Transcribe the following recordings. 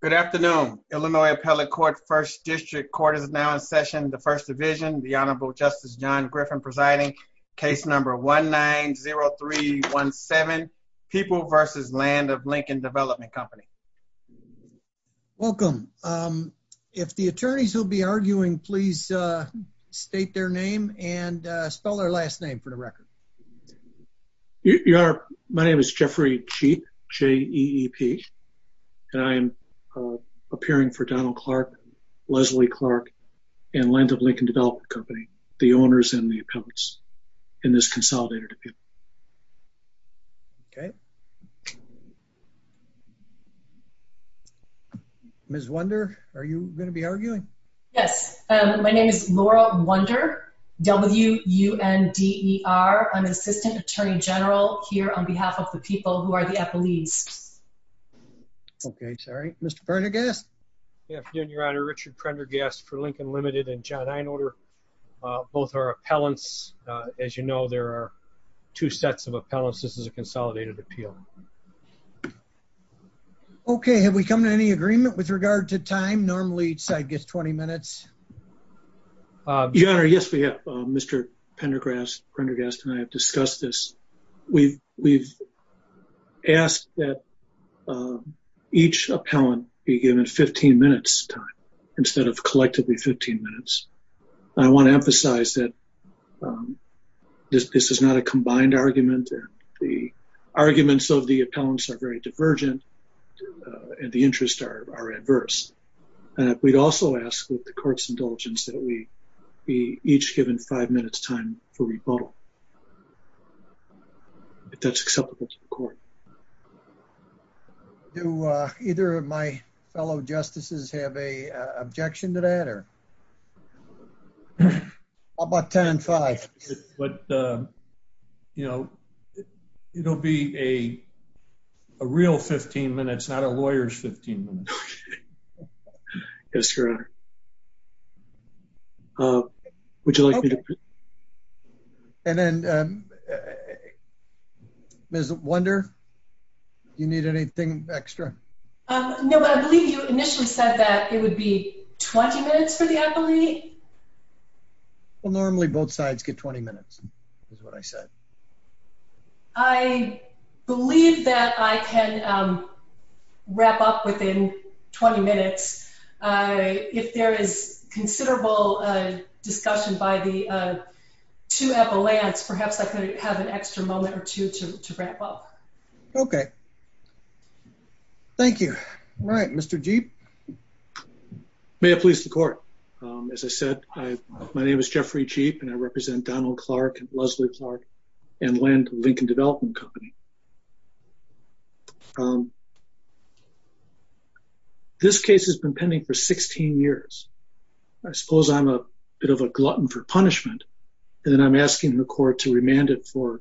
Good afternoon. Illinois Appellate Court's First District Court is now in session, the First Division, the Honorable Justice John Griffin presiding, case number 1-9-0-3-1-7, People v. Land of Lincoln Development Company. Welcome. If the attorneys will be arguing, please state their name and spell their last name for appearing for Donald Clark, Leslie Clark, and Land of Lincoln Development Company, the owners and the accomplices in this consolidated appeal. Ms. Wunder, are you going to be arguing? Yes. My name is Laura Wunder, W-U-N-D-E-R. I'm an Assistant Attorney General here on behalf of the people who are the FLEs. Okay. Sorry. Mr. Prendergast? Good afternoon, Your Honor. Richard Prendergast for Lincoln Limited and John Einolder. Both are appellants. As you know, there are two sets of appellants. This is a consolidated appeal. Okay. Have we come to any agreement with regard to time? Normally, it's, I guess, 20 minutes. Your Honor, yes, we have. Mr. Prendergast and I have discussed this. We've asked that each appellant be given 15 minutes time instead of collectively 15 minutes. I want to emphasize that this is not a combined argument. The arguments of the appellants are very divergent and the interests are adverse. We'd also ask with the court's indulgence that we be each given five minutes time for rebuttal. If that's acceptable to the court. Do either of my fellow justices have an objection to that? How about 10 and 5? But, you know, it'll be a real 15 minutes, not a lawyer's 15 minutes. Okay. Yes, Your Honor. And then, Ms. Wunder, do you need anything extra? No, I believe you initially said that it would be 20 minutes for the appellate. Well, normally both sides get 20 minutes, is what I said. Okay. I believe that I can wrap up within 20 minutes. If there is considerable discussion by the two appellants, perhaps I could have an extra moment or two to wrap up. Okay. Thank you. All right. Mr. Cheap. May it please the court. As I said, my name is Jeffrey Cheap and I represent Donald Clark and Land and Lincoln Development Company. This case has been pending for 16 years. I suppose I'm a bit of a glutton for punishment. And then I'm asking the court to remand it for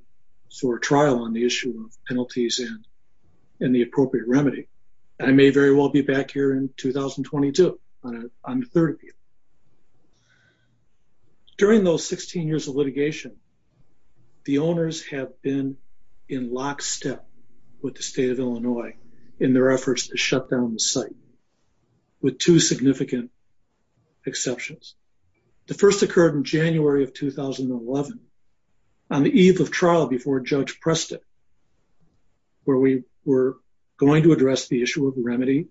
a trial on the issue of penalties and the appropriate remedy. And I may very well be back here in 2022 on the third appeal. During those 16 years of litigation, the owners have been in lockstep with the state of Illinois in their efforts to shut down the site with two significant exceptions. The first occurred in January of 2011 on the eve of trial before Judge Preston, where we were going to address the issue of remedy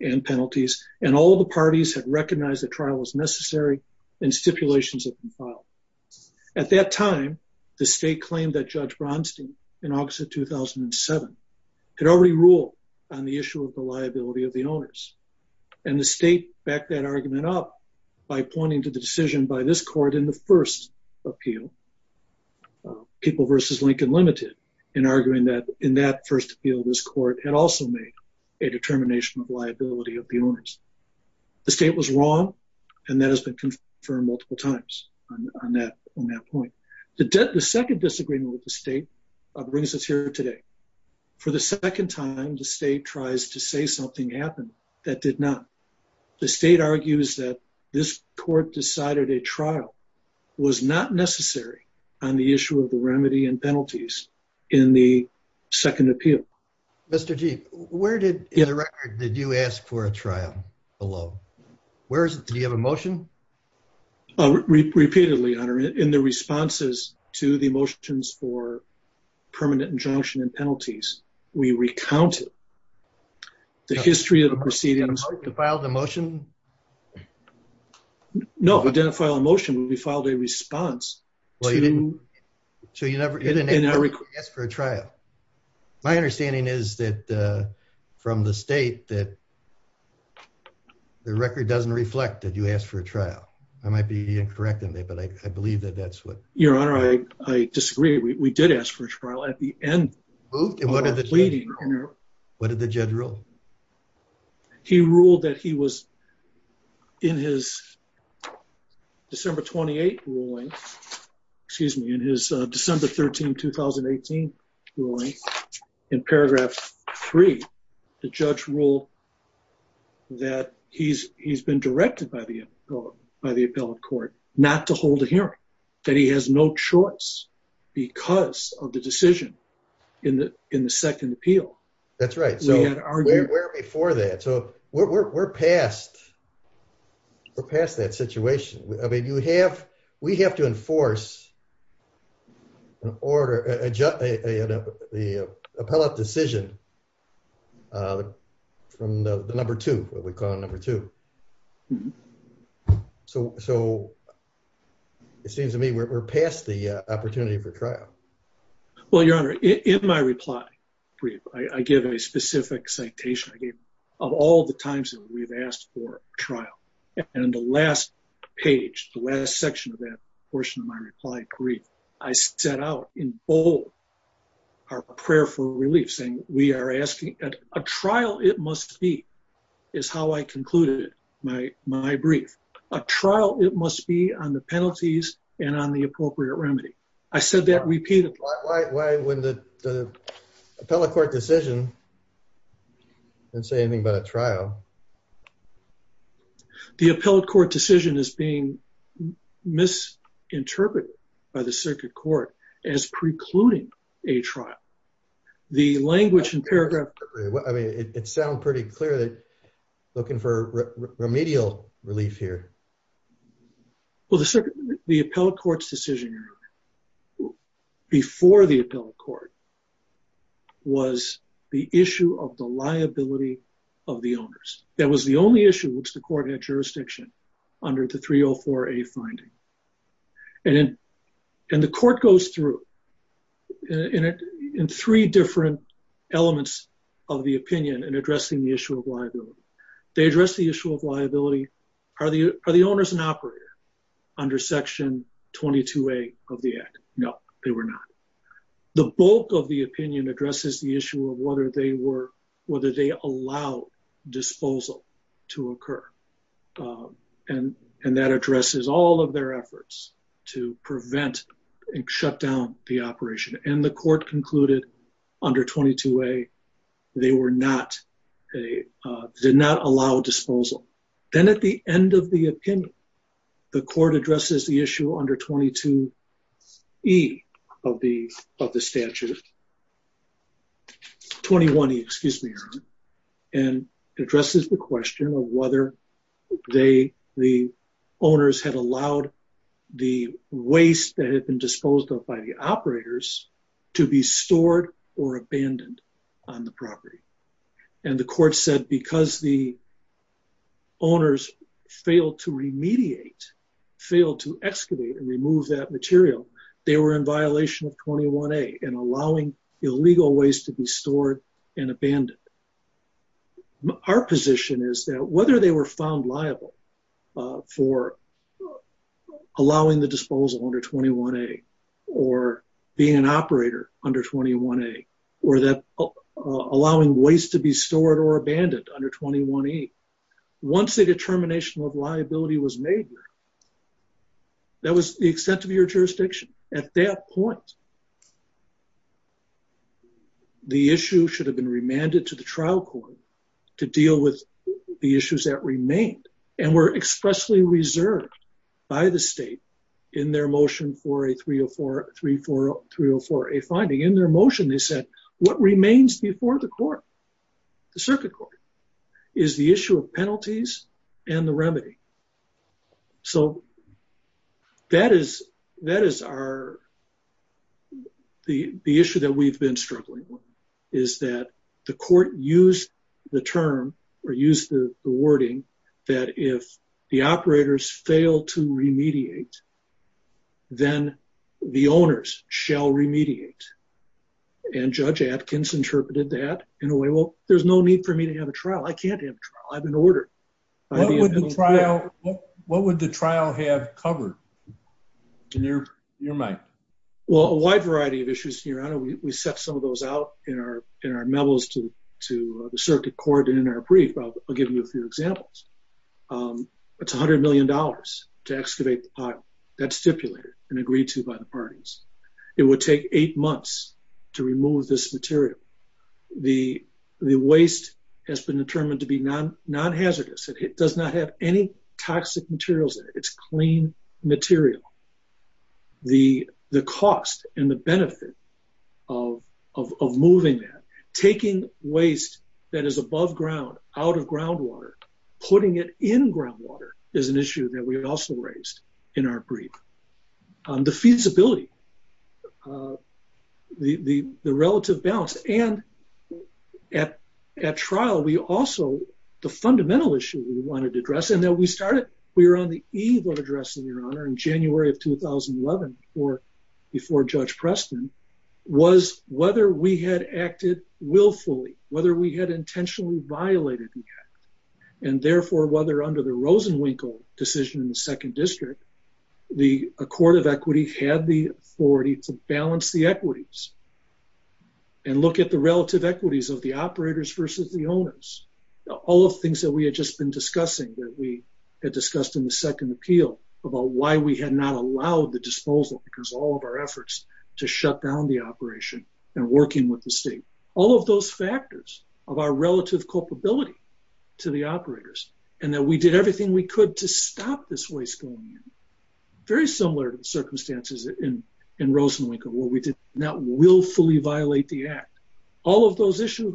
and penalties. And all the parties have recognized the trial was necessary and stipulations have been filed. At that time, the state claimed that Judge Bronstein in August of 2007 could already rule on the issue of the liability of the owners. And the state backed that argument up by pointing to the decision by this court in the first appeal, People versus Determination of Liability of the Owners. The state was wrong, and that has been confirmed multiple times on that point. The second disagreement with the state brings us here today. For the second time, the state tries to say something happened that did not. The state argues that this court decided a trial was not necessary on the issue of the remedy and penalties in the second appeal. Mr. Gee, where did, in the record, did you ask for a trial alone? Where is it? Did you have a motion? Repeatedly, Your Honor. In the responses to the motions for permanent injunction and penalties, we recounted the history of the proceedings. Did you file the motion? No, we didn't file a motion. We filed a response. Well, you didn't ask for a trial. My understanding is that from the state that the record doesn't reflect that you asked for a trial. I might be incorrect in there, but I believe that that's what... Your Honor, I disagree. We did ask for a trial at the end. What did the judge rule? He ruled that he was in his December 28 ruling in his December 13, 2018 ruling. In paragraph three, the judge ruled that he's been directed by the appellate court not to hold a hearing, that he has no choice because of the decision in the second appeal. That's right. Where before that? We're past that situation. We have to enforce an order, an appellate decision from the number two, what we call number two. It seems to me we're past the opportunity for trial. Well, Your Honor, in my reply for you, I give a specific citation. Of all the times that we've asked for a trial. In the last page, the last section of that portion of my reply brief, I set out in bold our prayer for relief saying, we are asking... A trial it must be, is how I concluded my brief. A trial it must be on the penalties and on the appropriate remedy. I said that repeatedly. Why would the appellate court decision not say anything about a trial? The appellate court decision is being misinterpreted by the circuit court as precluding a trial. The language in paragraph... I mean, it sounds pretty clear that looking for remedial relief here. Well, the appellate court's decision here before the appellate court was the issue of the liability of the owners. That was the only issue which the court had jurisdiction under the 304A finding. And the court goes through in three different elements of the opinion in addressing the issue of liability. They address the issue of liability. Are the owners an operator under section 22A of the act? No, they were not. The bulk of the opinion addresses the issue of whether they allow disposal to occur. And that addresses all of their efforts to prevent and shut down the operation. And the court concluded under 22A, they did not allow disposal. Then at the end of the opinion, the court addresses the issue under 22E of the statute. 21E, excuse me. And addresses the question of whether the owners had allowed the waste that had been disposed of by the operators to be stored or abandoned on the property. And the court said because the owners failed to remediate, failed to excavate and remove that material, they were in violation of 21A and allowing illegal waste to be stored and abandoned. Our position is that whether they were found liable for allowing the disposal under 21A or being an operator under 21A or allowing waste to be stored or abandoned under 21E, once the determination of liability was made, that was the extent of your jurisdiction. At that point, the issue should have been remanded to the trial court to deal with the issues that remained and were expressly reserved by the state in their motion for a 304A finding. In their motion, they said what remains before the circuit court is the issue of penalties and the remedy. So that is the issue that we've been struggling with, is that the court used the term or used the wording that if the operators fail to remediate, then the owners shall remediate. And Judge Atkins interpreted that in a way, well, there's no need for me to have a trial. I can't have a trial. I have an order. What would the trial have covered in your mind? Well, a wide variety of issues, Your Honor. We set some of those out in our medals to the circuit court and in our brief. I'll give you a few examples. It's a hundred million dollars to excavate the pot that's stipulated and agreed to by the parties. It would take eight months to remove this material. The waste has been determined to be non-hazardous. It does not have any toxic materials in it. It's clean material. The cost and the benefit of moving that, taking waste that is above ground, out of groundwater, putting it in groundwater is an issue that we have also raised in our brief. The feasibility, the relative balance, and at trial, we also, the fundamental issue we wanted to address, and that we started, we were on the eve of addressing Your Honor in January of 2011 before Judge Preston, was whether we had acted willfully, whether we had intentionally violated the act. And therefore, whether under the Rosenwinkel decision in the second district, the court of equity had the authority to balance the equities and look at the relative equities of the operators versus the owners. All of the things that we had just been discussing that we had discussed in the second appeal about why we had not allowed the disposal because all of our efforts to shut down the operation and working with the state. All of those factors of our relative culpability to the operators and that we did everything we could to stop this waste going in. Very similar to the circumstances in Rosenwinkel where we did not willfully violate the act. All of those issues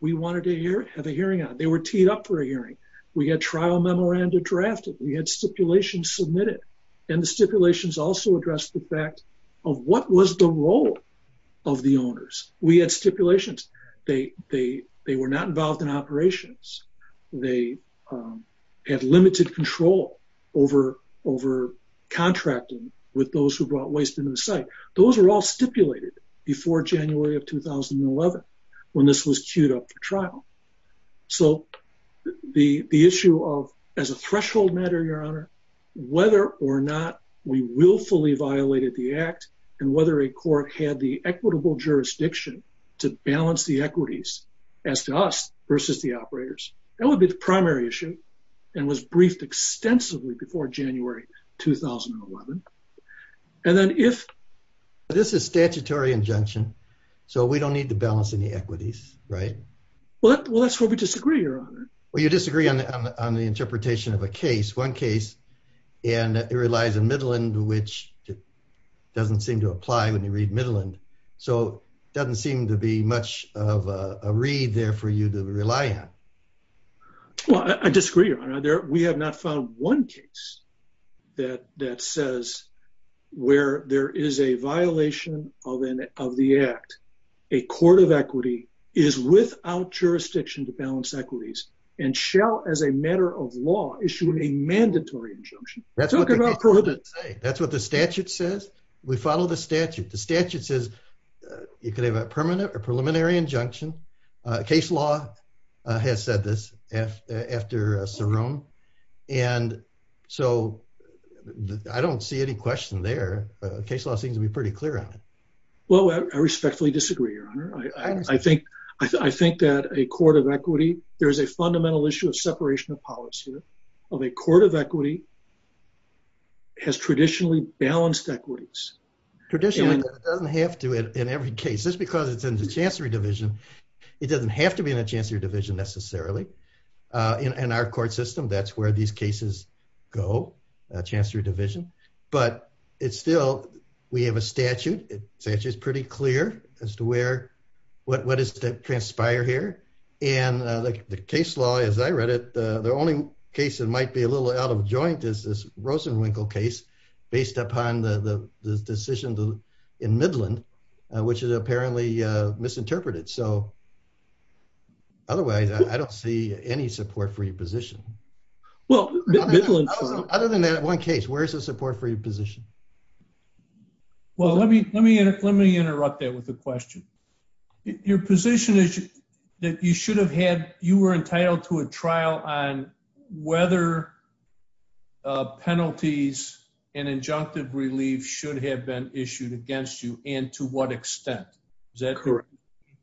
we wanted to have a hearing on. They were teed up for a hearing. We had trial memoranda drafted. We had stipulations submitted. And the stipulations also addressed the fact of what was the role of the owners. We had stipulations. They were not involved in operations. They had limited control over contracting with those who before January of 2011 when this was queued up for trial. So the issue of as a threshold matter, your honor, whether or not we willfully violated the act and whether a court had the equitable jurisdiction to balance the equities as to us versus the operators. That would be the primary issue and was briefed extensively before January 2011. And then if this is statutory injunction, so we don't need to balance any equities, right? Well, that's where we disagree, your honor. Well, you disagree on the interpretation of a case. One case and it relies in Midland, which doesn't seem to apply when you read Midland. So doesn't seem to be much of a read there for you to rely on. Well, I disagree, your honor. We have not found one case that says where there is a violation of the act. A court of equity is without jurisdiction to balance equities and shall as a matter of law issue a mandatory injunction. That's what the statute says. We follow the statute. The statute says you could have a permanent or preliminary injunction. Case law has said this after Cerrone. And so I don't see any question there. Case law seems to be pretty clear on it. Well, I respectfully disagree, your honor. I think that a court of equity, there is a fundamental issue of separation of policy of a court of equity has traditionally balanced equities. Traditionally, it doesn't have to in every case. Just because it's in the chancery division, it doesn't have to be in a chancery division necessarily. In our court system, that's where these cases go, a chancery division. But it's still, we have a statute. The statute is pretty clear as to where, what is to transpire here. And the case law, as I read it, the only case that might be a little out of joint is this Rosenwinkel case based upon the decision in Midland, which is apparently misinterpreted. So otherwise, I don't see any support for your position. Other than that one case, where's the support for your position? Well, let me interrupt that with a question. Your position is that you should have had, you were entitled to a trial on whether penalties and injunctive relief should have been issued against you and to what extent. Is that correct?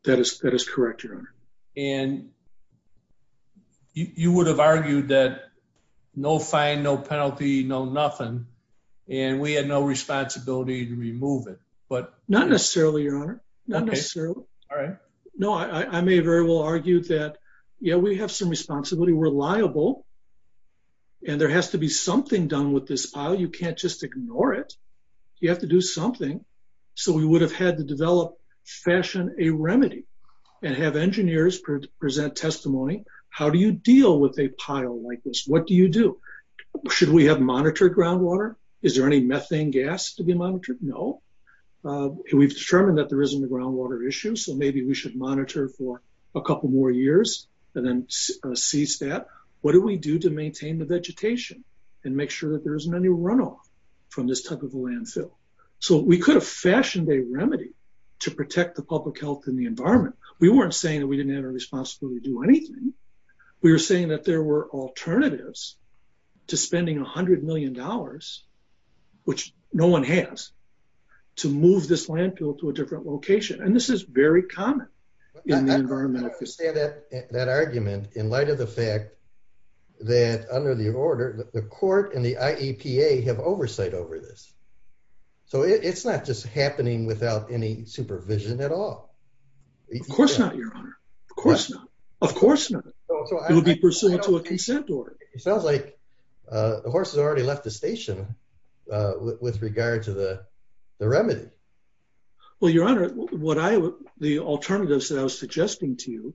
That is correct, your honor. And you would have argued that no fine, no penalty, no nothing. And we had no responsibility to remove it. Not necessarily, your honor. Not necessarily. No, I may very well argue that, yeah, we have some responsibility. We're liable and there has to be something done with this pile. You can't just ignore it. You have to do something. So we would have had to develop, fashion a remedy and have engineers present testimony. How do you deal with a pile like this? What do you do? Should we have monitored groundwater? Is there any methane gas to be monitored? No. We've determined that there isn't a groundwater issue. So maybe we should monitor for a couple more years and then cease that. What do we do to maintain the vegetation and make sure that there isn't any runoff from this type of landfill? So we could have fashioned a remedy to protect the public health and the environment. We weren't saying that we didn't have a responsibility to do anything. We were saying that there were alternatives to spending a hundred million dollars, which no one has, to move this landfill to a different location. And this is very common in the environment. I understand that argument in light of the fact that under the order, the court and the IAPA have oversight over this. So it's not just happening without any supervision at all. Of course not, your honor. Of course not. It would be pursuant to a consent order. It sounds like the horse has already left the station with regard to the remedy. Well, your honor, the alternatives that I was suggesting to you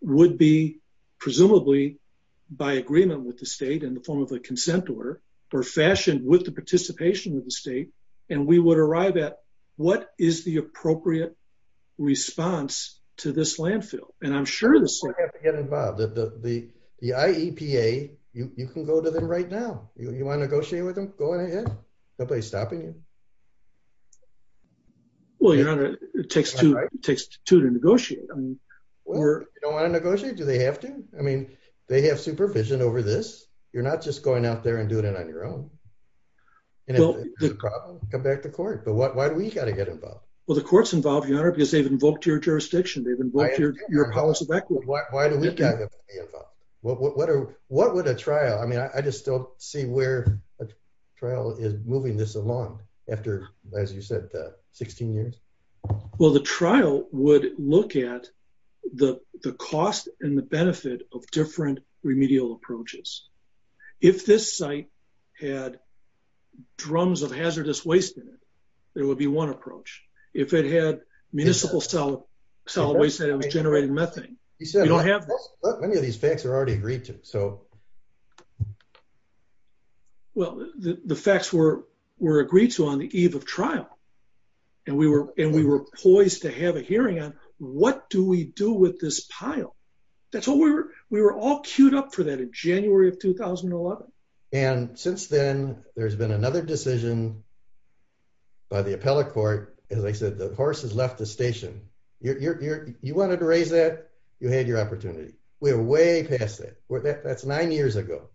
would be presumably by agreement with the state in the form of a consent order for fashion with the participation of the state. And we would arrive at what is the appropriate response to this landfill. And I'm sure this... You have to get involved. The IEPA, you can go to them right now. You want to negotiate with them? Go ahead. Nobody's stopping you. Well, your honor, it takes two to negotiate. You don't want to negotiate? Do they have to? I mean, they have supervision over this. You're not just going out there and doing it on your own. Come back to court. So why do we got to get involved? Well, the court's involved, your honor, because they've invoked your jurisdiction. They've invoked your policy of equity. What would a trial... I mean, I just don't see where a trial is moving this along after, as you said, 16 years. Well, the trial would look at the cost and the benefit of different remedial approaches. If this site had drums of hazardous waste in it, there would be one approach. If it had municipal cell waste that generated methane, you don't have this. Many of these facts are already agreed to, so... Well, the facts were agreed to on the eve of trial. And we were poised to have a hearing on what do we do with this pile? We were all queued up for that in January of 2011. And since then, there's been another decision by the appellate court. As I said, the horses left the station. You wanted to raise that, you had your opportunity. We're way past it. That's nine years ago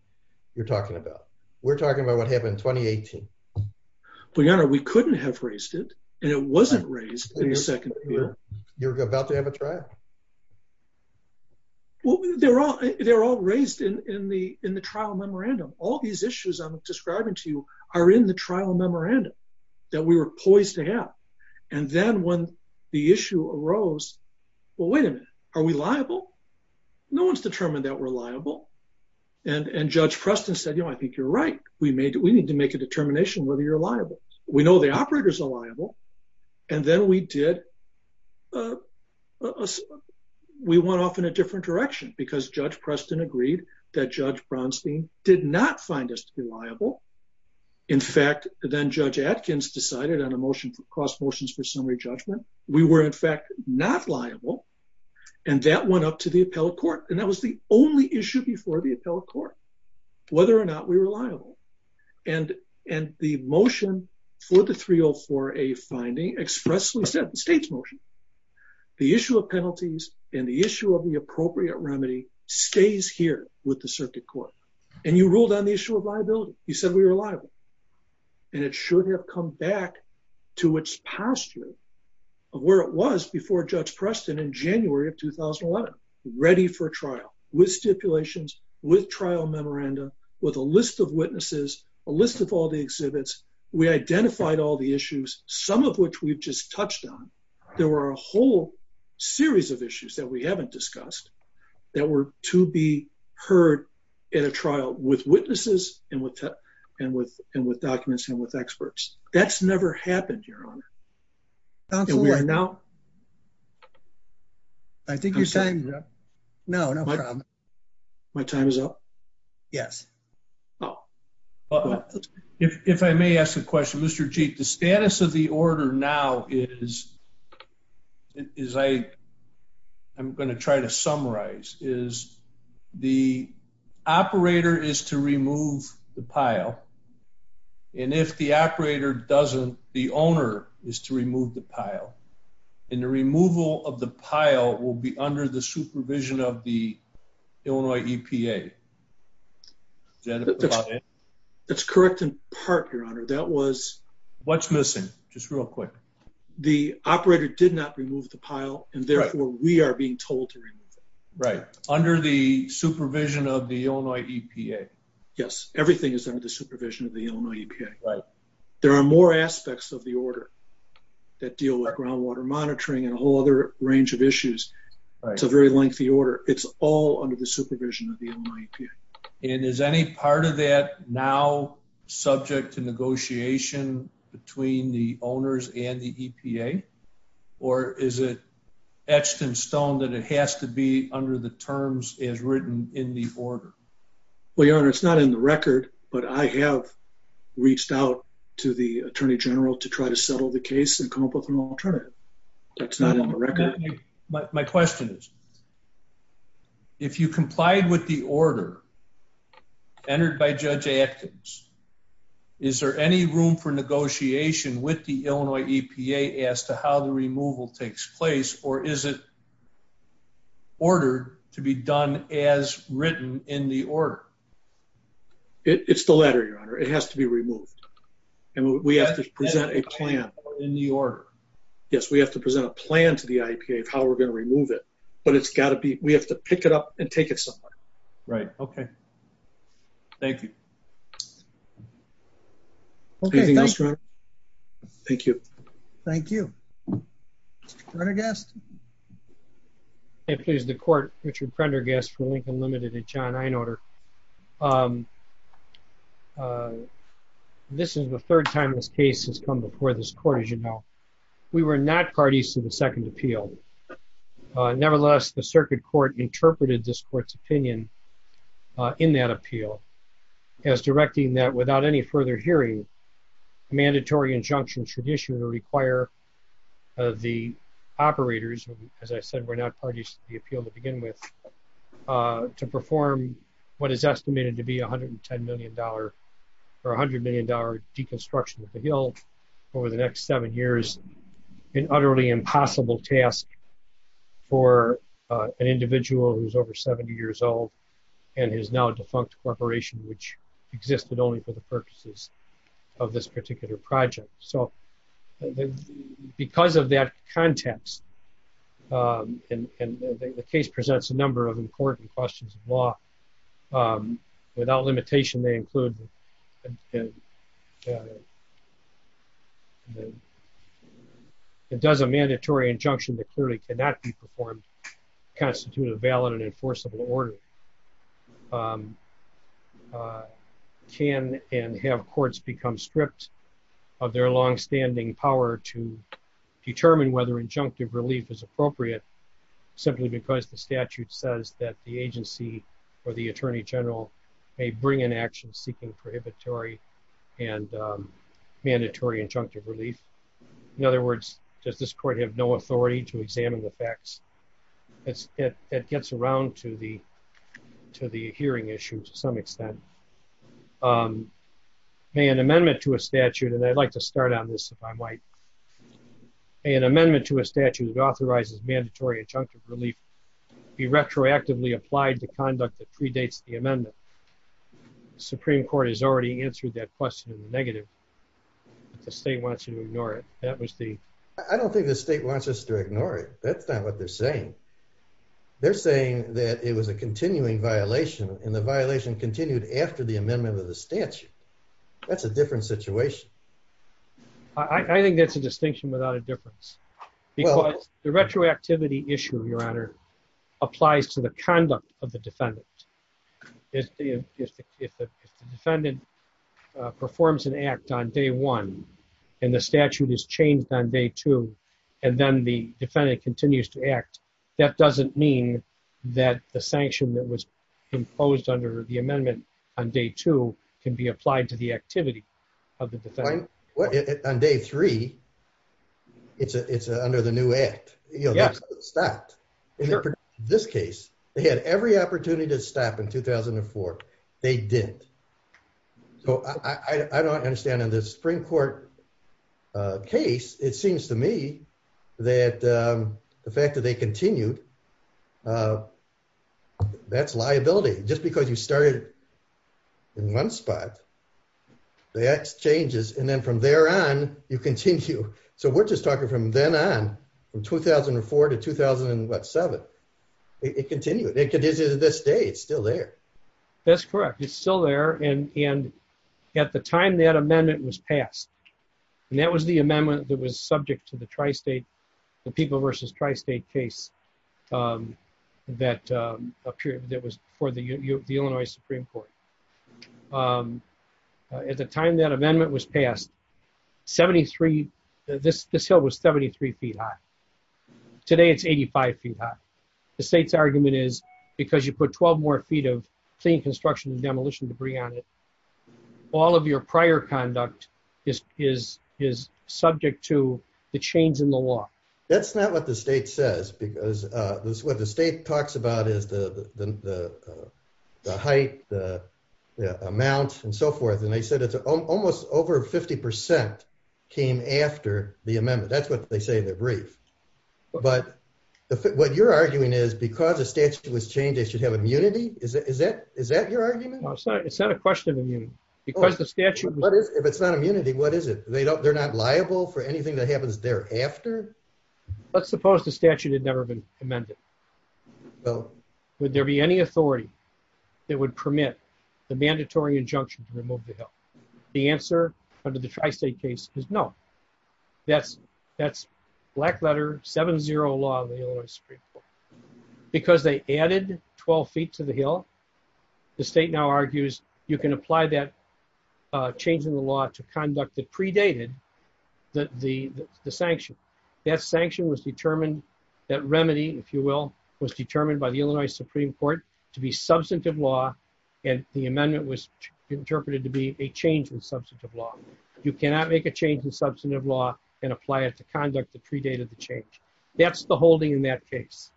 you're talking about. We're talking about what happened in 2018. Well, your honor, we couldn't have raised it, and it wasn't raised in the second year. You're about to have a trial. Well, they're all raised in the trial memorandum. All these issues I'm describing to you are in the trial memorandum that we were poised to have. And then when the issue arose, well, wait a minute, are we liable? No one's determined that we're liable. And Judge Preston said, you know, I think you're right. We need to make a determination whether you're liable. We know the operators are liable. And then we went off in a different direction, because Judge Preston agreed that Judge Brownstein did not find us to be liable. In fact, then Judge Atkins decided on a motion for cross motions for summary judgment. We were, in fact, not liable. And that went up to the appellate court. And that was the only issue before the appellate court, whether or not we were liable. And the motion for the 304A finding expressly said, the state's motion, the issue of penalties and the issue of the appropriate remedy stays here with the circuit court. And you ruled on the issue of liability. You said we were liable. And it should have come back to its posture of where it was before Judge Preston in January of 2001, ready for trial, with stipulations, with trial memorandum, with a list of witnesses, a list of all the exhibits. We identified all the issues, some of which we've just touched on. There were a whole series of issues that we haven't discussed that were to be heard at a trial with witnesses and with documents and with experts. That's never happened, Your Honor. Counselor, I think your time is up. No, no problem. My time is up? Yes. If I may ask a question, Mr. Chief, the status of the order now is, I'm going to try to summarize, is the operator is to remove the pile. And if the operator doesn't, the owner is to remove the pile. And the removal of the pile will be under the supervision of the Illinois EPA. Is that it? That's correct in part, Your Honor. That was... What's missing? Just real quick. The operator did not remove the pile and therefore we are being told to remove it. Right. Under the supervision of the Illinois EPA. Yes, everything is under supervision of the Illinois EPA. There are more aspects of the order that deal with groundwater monitoring and a whole other range of issues. It's a very lengthy order. It's all under the supervision of the Illinois EPA. And is any part of that now subject to negotiation between the owners and the EPA? Or is it etched in stone that it has to be under the terms as written in the order? I have reached out to the Attorney General to try to settle the case and come up with an alternative. That's not on the record. My question is, if you complied with the order entered by Judge Atkins, is there any room for negotiation with the Illinois EPA as to how the removal takes place? Or is it order to be done as written in the order? It's the letter, Your Honor. It has to be removed. And we have to present a plan in the order. Yes, we have to present a plan to the IPA of how we're going to remove it. But it's got to be... We have to pick it up and take it somewhere. Right, okay. Thank you. Thank you. Thank you. Prendergast? Hey, please. The court, Richard Prendergast for Lincoln Limited and John Einolder. This is the third time this case has come before this court, as you know. We were not parties to the second appeal. Nevertheless, the circuit court interpreted this court's opinion in that appeal as directing that without any further hearing, mandatory injunction should issue or require the operators, as I said, we're not parties to the appeal to begin with, to perform what is estimated to be $110 million or $100 million deconstruction of the guild over the next seven years, an utterly impossible task for an individual who's over 70 years old, and his now defunct corporation, which existed only for the purposes of this particular project. So because of that context, and the case presents a number of important questions of law, without limitation, they include a mandatory injunction that clearly cannot be performed to constitute a valid and enforceable order. Can and have courts become strict of their longstanding power to determine whether injunctive relief is appropriate, simply because the statute says that the agency or the Attorney General may in action seeking prohibitory and mandatory injunctive relief. In other words, does this court have no authority to examine the facts? It gets around to the hearing issue to some extent. May an amendment to a statute, and I'd like to start on this if I might. May an amendment to a statute that authorizes mandatory injunctive relief be retroactively applied to conduct that predates the amendment? Supreme Court has already answered that question in the negative. The state wants you to ignore it. That was the... I don't think the state wants us to ignore it. That's not what they're saying. They're saying that it was a continuing violation, and the violation continued after the amendment of the statute. That's a different situation. I think that's a distinction without a difference. Because the retroactivity issue, Your Honor, applies to the conduct of the defendant. If the defendant performs an act on day one, and the statute is changed on day two, and then the defendant continues to act, that doesn't mean that the sanction that was composed under the amendment on day two can be applied to activity of the defendant. On day three, it's under the new act. This case, they had every opportunity to stop in 2004. They didn't. I don't understand in this Supreme Court case, it seems to me that the fact that they continued, that's liability. Just because you started in one spot, the act changes, and then from there on, you continue. We're just talking from then on, from 2004 to 2007. It continued. It continues to this day. It's still there. That's correct. It's still there. At the time that amendment was passed, that was the amendment that was subject to the Tri-State, the People v. Tri-State case that was before the Illinois Supreme Court. At the time that amendment was passed, this hill was 73 feet high. Today, it's 85 feet high. The state's argument is, because you put 12 more feet of clean construction and demolition debris on it, all of your prior conduct is subject to the change in the law. That's not what the state says. What the state talks about is the height, the amounts, and so forth. They said it's almost over 50% came after the amendment. That's what they say in the brief. What you're arguing is, because the statute was changed, they should have immunity? Is that your argument? It's not a question of immunity. If it's not immunity, what is it? They're not let's suppose the statute had never been amended. Would there be any authority that would permit the mandatory injunction to remove the hill? The answer for the Tri-State case is no. That's black letter, 7-0 law of the Illinois Supreme Court. Because they added 12 feet to the hill, the state now argues you can apply that change in the law to conduct the predated the sanction. That sanction was determined, that remedy, if you will, was determined by the Illinois Supreme Court to be substantive law, and the amendment was interpreted to be a change in substantive law. You cannot make a change in substantive law and apply it to conduct the predated change. That's the holding in that case.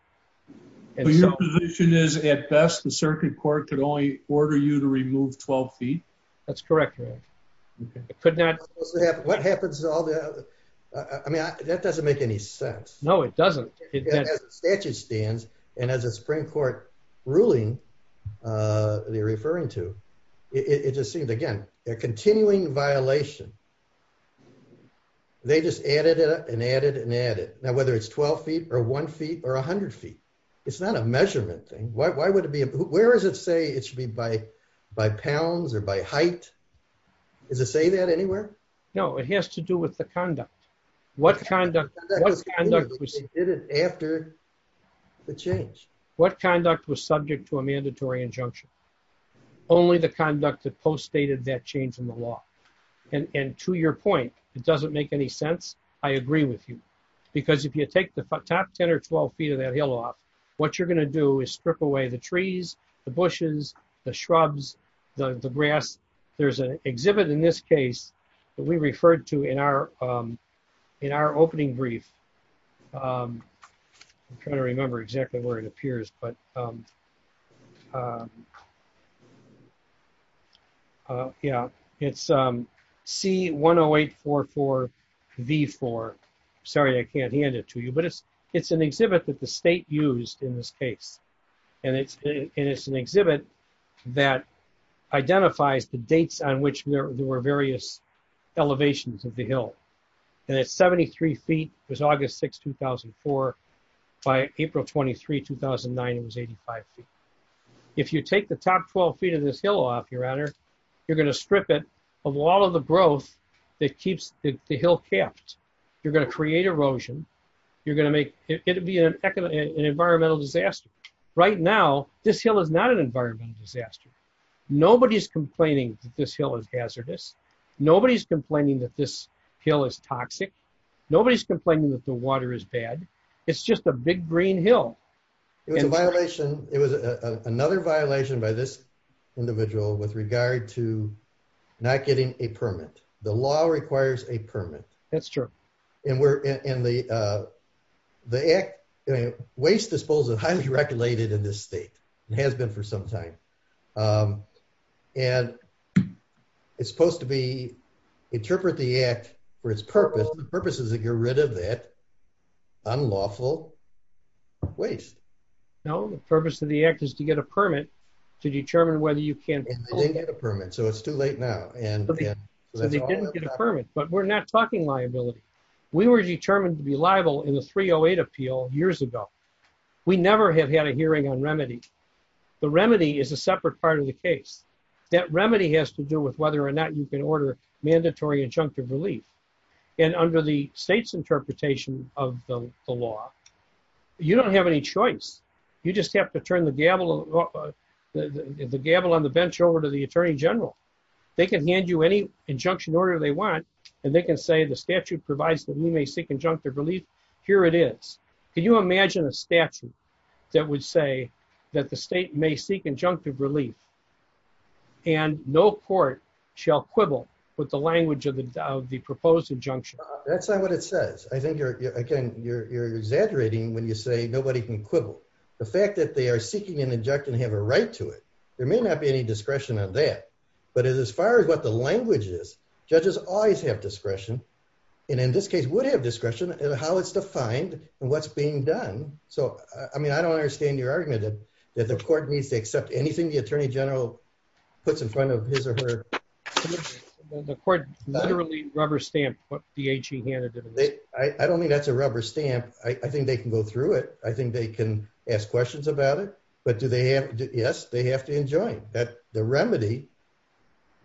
Your position is, at best, the circuit court can only order you to remove 12 feet? That's correct. I mean, that doesn't make any sense. No, it doesn't. And as a Supreme Court ruling, they're referring to, it just seems, again, they're continuing violation. They just added and added and added. Now, whether it's 12 or 1 feet or 100 feet, it's not a measurement thing. Why would it be? Where does it say it should be by pounds or by height? Does it say that anywhere? No, it has to do with the conduct. What kind of conduct did it after the change? What conduct was subject to a mandatory injunction? Only the conduct that co-stated that change in the law. And to your point, it doesn't make any sense. I agree with you. Because if you take the top 10 or 12 feet of that hill off, what you're going to do is strip away the trees, the bushes, the shrubs, the grass. There's an exhibit in this case that we referred to in our opening brief. I'm trying to remember exactly where it appears. It's C10844V4. Sorry, I can't hand it to you. But it's an exhibit that the state used in this case. And it's an exhibit that identifies the dates on which there were various elevations of the hill. And at 73 feet, it was August 6, 2004. By April 23, 2009, it was 85 feet. If you take the top 12 feet of this hill off, your honor, you're going to strip it of all of the growth that keeps the hill capped. You're going to create erosion. You're going to make it be an environmental disaster. Right now, this hill is not an hazardous. Nobody's complaining that this hill is toxic. Nobody's complaining that the water is bad. It's just a big green hill. It was another violation by this individual with regard to not getting a permit. The law requires a permit. That's true. And the waste disposal is highly in this state. It has been for some time. And it's supposed to be, interpret the act for its purpose. The purpose is to get rid of that unlawful waste. No, the purpose of the act is to get a permit to determine whether you can't. I didn't get a permit, so it's too late now. You didn't get a permit, but we're not talking liability. We were determined to be liable in the 308 appeal years ago. We never have had a hearing on remedies. The remedy is a separate part of the case. That remedy has to do with whether or not you can order mandatory injunctive relief. And under the state's interpretation of the law, you don't have any choice. You just have to turn the gavel on the bench over to the attorney general. They can hand you any injunction order they want, and they can say the statute provides that we may seek injunctive relief. Here it is. Can you imagine a statute that would say that the state may seek injunctive relief and no court shall quibble with the language of the proposed injunction? That's not what it says. I think you're exaggerating when you say nobody can quibble. The fact that they are seeking an injunction and have a right to it, there may not be any language. Judges always have discretion, and in this case would have discretion in how it's defined and what's being done. So I mean, I don't understand your argument that the court needs to accept anything the attorney general puts in front of his or her. The court literally rubber-stamped what PHE handed them. I don't think that's a rubber stamp. I think they can go through it. I think they can ask questions about it. But yes, they have to enjoy it. The remedy,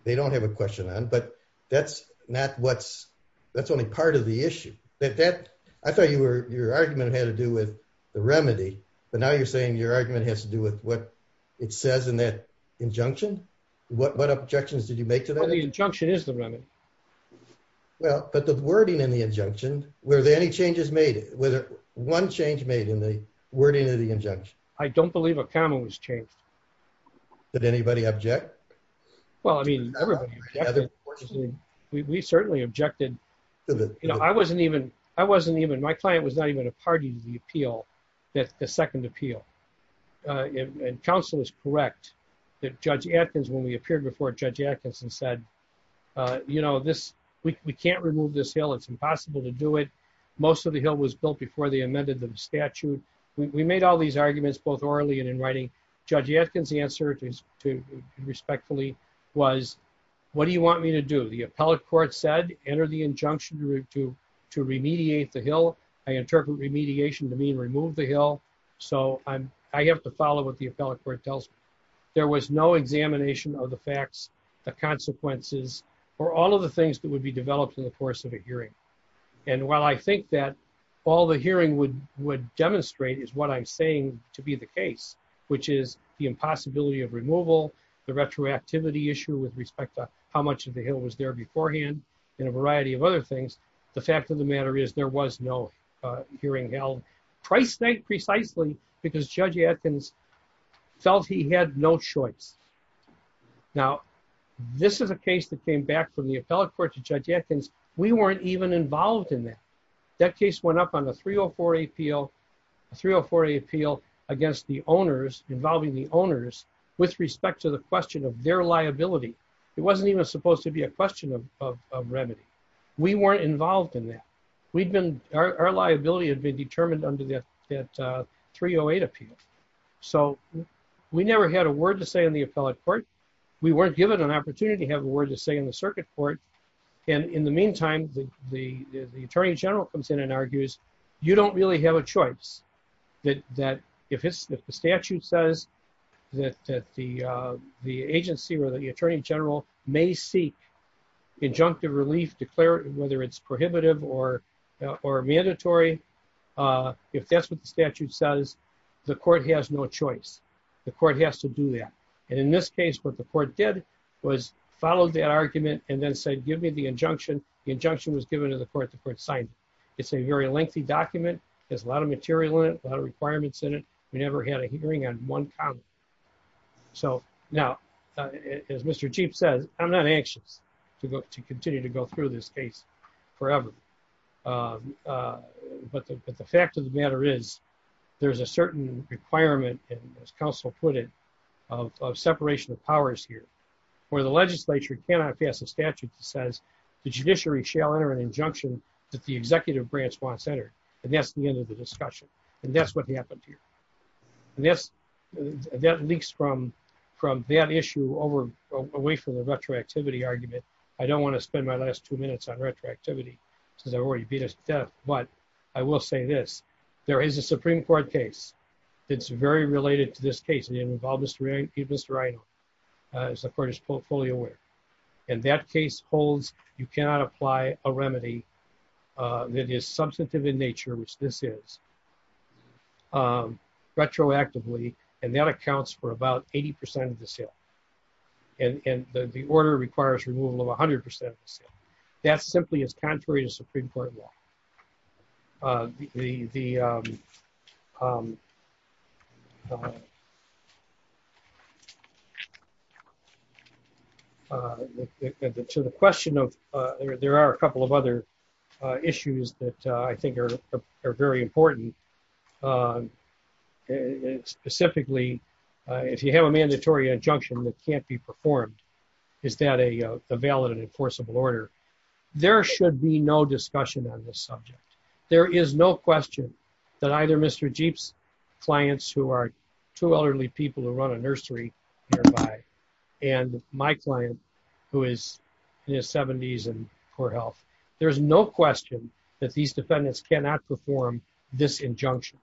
they don't have a question on, but that's only part of the issue. I thought your argument had to do with the remedy, but now you're saying your argument has to do with what it says in that injunction? What objections did you make to that? Well, the injunction is the remedy. Well, but the wording in the injunction, were there any changes made? Was one change made in the wording of the injunction? I don't believe a comment was changed. Did anybody object? Well, I mean, we certainly objected. I wasn't even, my client was not even a party to the appeal, the second appeal. And counsel is correct that Judge Atkins, when we appeared before Judge Atkins and said, you know, this, we can't remove this hill. It's impossible to do it. Most of the hill was built before they amended the statute. We made all these arguments, both orally and in writing. Judge Atkins answer to respectfully was, what do you want me to do? The appellate court said, enter the injunction to remediate the hill. I interpret remediation to mean remove the hill. So I have to follow what the appellate court tells me. There was no examination of the facts, the consequences, or all of the things that would be developed in the course of a hearing. And while I think that all the hearing would demonstrate is what I'm saying to be the case, which is the impossibility of removal, the retroactivity issue with respect to how much of the hill was there beforehand, and a variety of other things. The fact of the matter is there was no hearing held, precisely because Judge Atkins felt he had no choice. Now, this is a case that came back from the appellate court to Judge Atkins. We weren't even involved in that. That case went up on a 304A appeal against the owners, involving the owners, with respect to the question of their liability. It wasn't even supposed to be a question of remedy. We weren't involved in that. Our liability had been determined under that 308 appeal. So we never had a word to say in the appellate court. We weren't given an opportunity to have a word to say in the circuit court. And in the meantime, the Attorney General comes in and argues, you don't really have a choice. If the statute says that the agency or the Attorney General may seek injunctive relief, declare whether it's prohibitive or mandatory, if that's what the statute says, the court has no choice. The court has to do that. And in this case, what the court did was follow the argument and then say, give me the injunction. The injunction was given to the court, the court signed it. It's a very lengthy document. There's a lot of material in it, a lot of requirements in it. We never had a hearing on one comment. So now, as Mr. Chief said, I'm not anxious to continue to go through this case forever. But the fact of the matter is, there's a certain requirement, as counsel put it, of separation of powers here, where the legislature cannot pass a statute that says the judiciary shall enter an injunction that the executive branch must enter. And that's the end of the discussion. And that's what happened here. And that leaks from that issue away from the retroactivity argument. I don't want to spend my last two minutes on retroactivity, because I've already beat us to death. But I will say this. There is a Supreme Court case that's very related to this case, and it involves this right, as the court is fully aware. And that case holds you cannot apply a remedy that is substantive in nature, which this is, retroactively, and that accounts for about 80% of the sale. And the order requires removal of the statute. There are a couple of other issues that I think are very important. Specifically, if you have a mandatory injunction that can't be performed, is that a valid and enforceable order? There should be no discussion on this subject. There is no question that either Mr. Jeep's clients, who are two elderly people who run a nursery nearby, and my client, who is in his 70s and poor health, there's no question that these defendants cannot perform this injunction.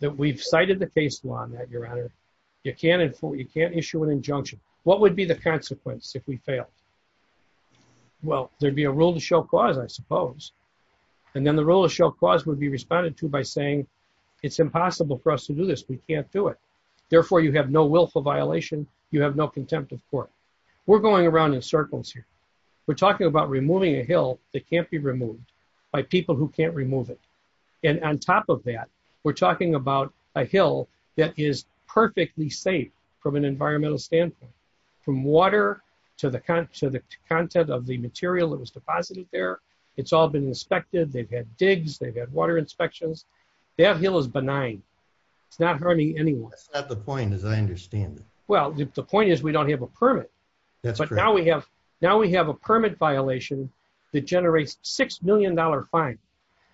That we've cited the case law on that, Your Honor. You can't issue an injunction. What would be the consequence if we failed? Well, there'd be a rule of show cause, I suppose. And then the rule of show cause would be responded to by saying, it's impossible for us to do this. We can't do it. Therefore, you have no willful violation. You have no contempt of court. We're going around in circles here. We're talking about removing a hill that can't be removed by people who can't remove it. And on top of that, we're talking about a hill that is perfectly safe from an environmental standpoint, from water to the content of the material that was deposited there. It's all been inspected. They've had digs. They've had water inspections. To have a hill is benign. It's not harming anyone. That's not the point, as I understand it. Well, the point is we don't have a permit. Now we have a permit violation that generates a $6 million fine.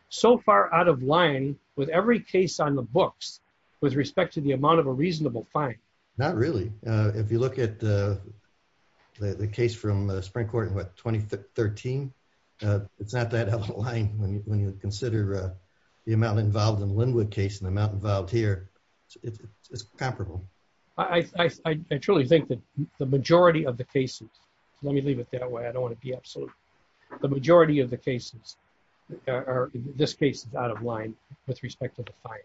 So far out of line with every case on the books with respect to the amount of a reasonable fine. Not really. If you look at the case from Spring Court in 2013, it's not that out of line when you consider the amount involved in the Linwood case and the amount involved here. It's comparable. I truly think that the majority of the cases, let me leave it that way. I don't want to be absolute. The majority of the cases are, in this case, out of line with respect to the fine.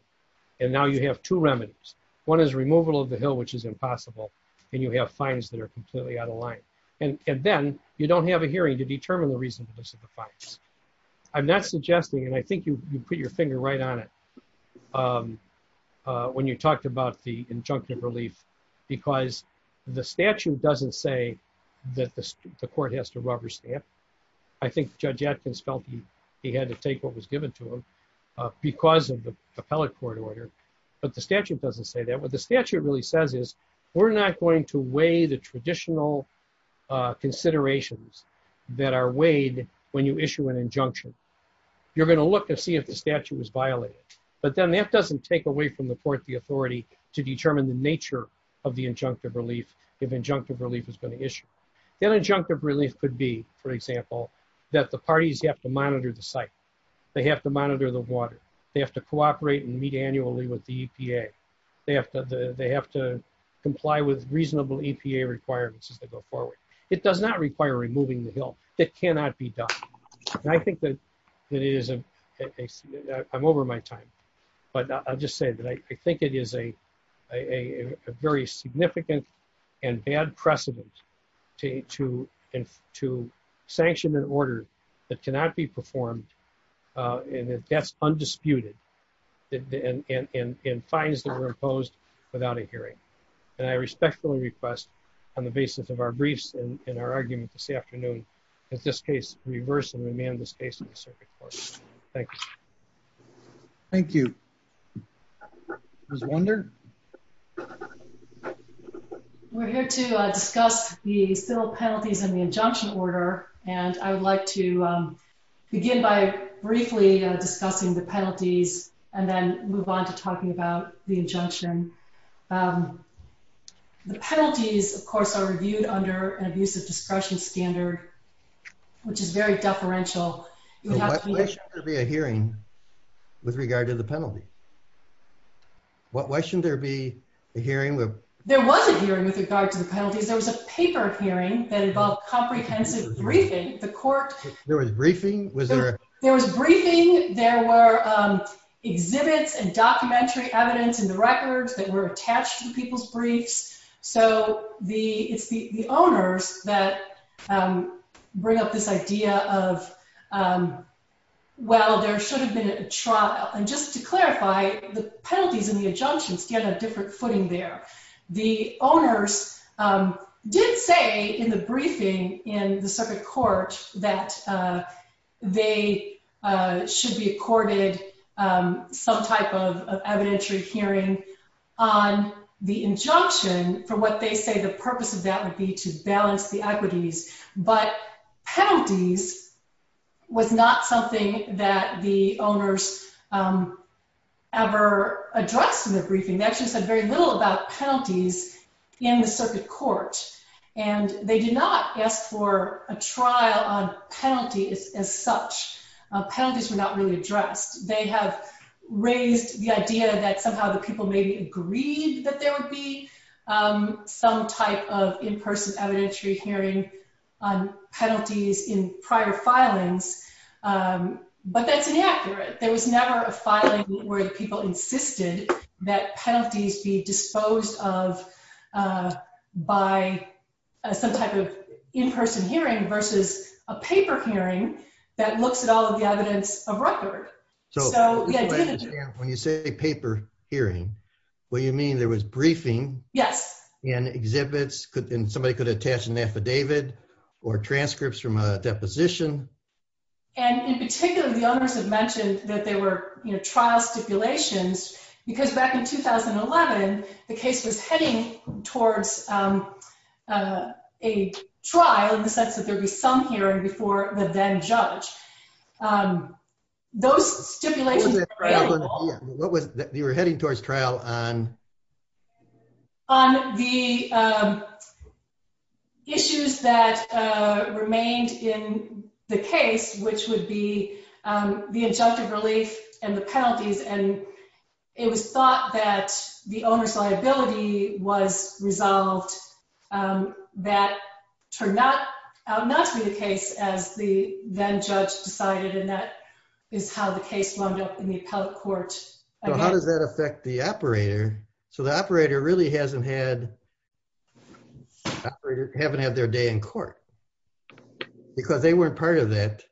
And now you have two remedies. One is removal of the hill, which is impossible, and you have fines that are completely out of line. And then you don't have a hearing to determine the reason for the fines. I'm not suggesting, and I think you put your finger right on it, when you talked about the injunctive relief, because the statute doesn't say that the court has to rubber stamp. I think Judge Atkins felt he had to take what was given to him because of the appellate court order. But the statute doesn't say that. What the statute really says is, we're not going to weigh the traditional considerations that are weighed when you issue an injunction. You're going to look to see if the statute was violated. But then that doesn't take away from the court the authority to determine the nature of the injunctive relief if injunctive relief is going to issue. That injunctive relief could be, for example, that the parties have to monitor the site. They have to monitor the water. They have to cooperate and meet annually with the EPA. They have to comply with reasonable EPA requirements as they go forward. It does not require removing the hill. It cannot be done. And I think that I'm over my time. But I'll just say that I think it is a very significant and bad precedent to sanction an order that cannot be performed and that's undisputed in fines that are imposed without a hearing. And I respectfully request on the basis of our briefs and our argument this afternoon, in this case, reverse and remand this case in the circuit court. Thank you. Thank you. Ms. Warner? We're here to discuss the civil penalties and the injunction order. And I'd like to begin by briefly discussing the penalties and then move on to talking about the injunction. The penalties, of course, are reviewed under an abusive discretion standard, which is very deferential. There should be a hearing with regard to the penalty. Why shouldn't there be a hearing? There was a hearing with regard to the penalty. There was a paper hearing that involved comprehensive briefing. There was briefing? There was briefing. There were exhibits and documentary evidence in the records that were attached to people's briefs. So the owners that bring up this idea of, well, there should have been a trial. And just to clarify, the penalties and the injunctions get a different footing there. The owners did say in the briefing in the circuit court that they should be accorded some type of evidentiary hearing on the injunction for what they say the purpose of that would be to balance the equities. But penalties was not something that the owners ever addressed in the briefing. They actually said very little about penalties in the circuit court. And they did not ask for a trial on penalty as such. Penalties were not really addressed. They have raised the idea that somehow the people maybe agreed that there would be some type of in-person evidentiary hearing on penalties in prior filings. But that's inaccurate. There was never a filing where people insisted that penalties be disposed of by some type of in-person hearing versus a paper hearing that looks at all of the evidence of record. So when you say a paper hearing, well, you mean there was briefing? Yes. And exhibits, and somebody could attach an affidavit or transcripts from a deposition? And in particular, the owners have mentioned that there were trial stipulations. Because back in 2011, the case was heading towards a trial in the sense that there'd be some hearing before the then-judge. Those stipulations were very small. What was it that you were heading towards trial on? On the issues that remained in the case, which would be the adjusted release and the penalties. And it was thought that the owner's liability was resolved that turned out not through the then-judge decided. And that is how the case wound up in the appellate court. How does that affect the operator? So the operator really hasn't had their day in court. Because they weren't part of that.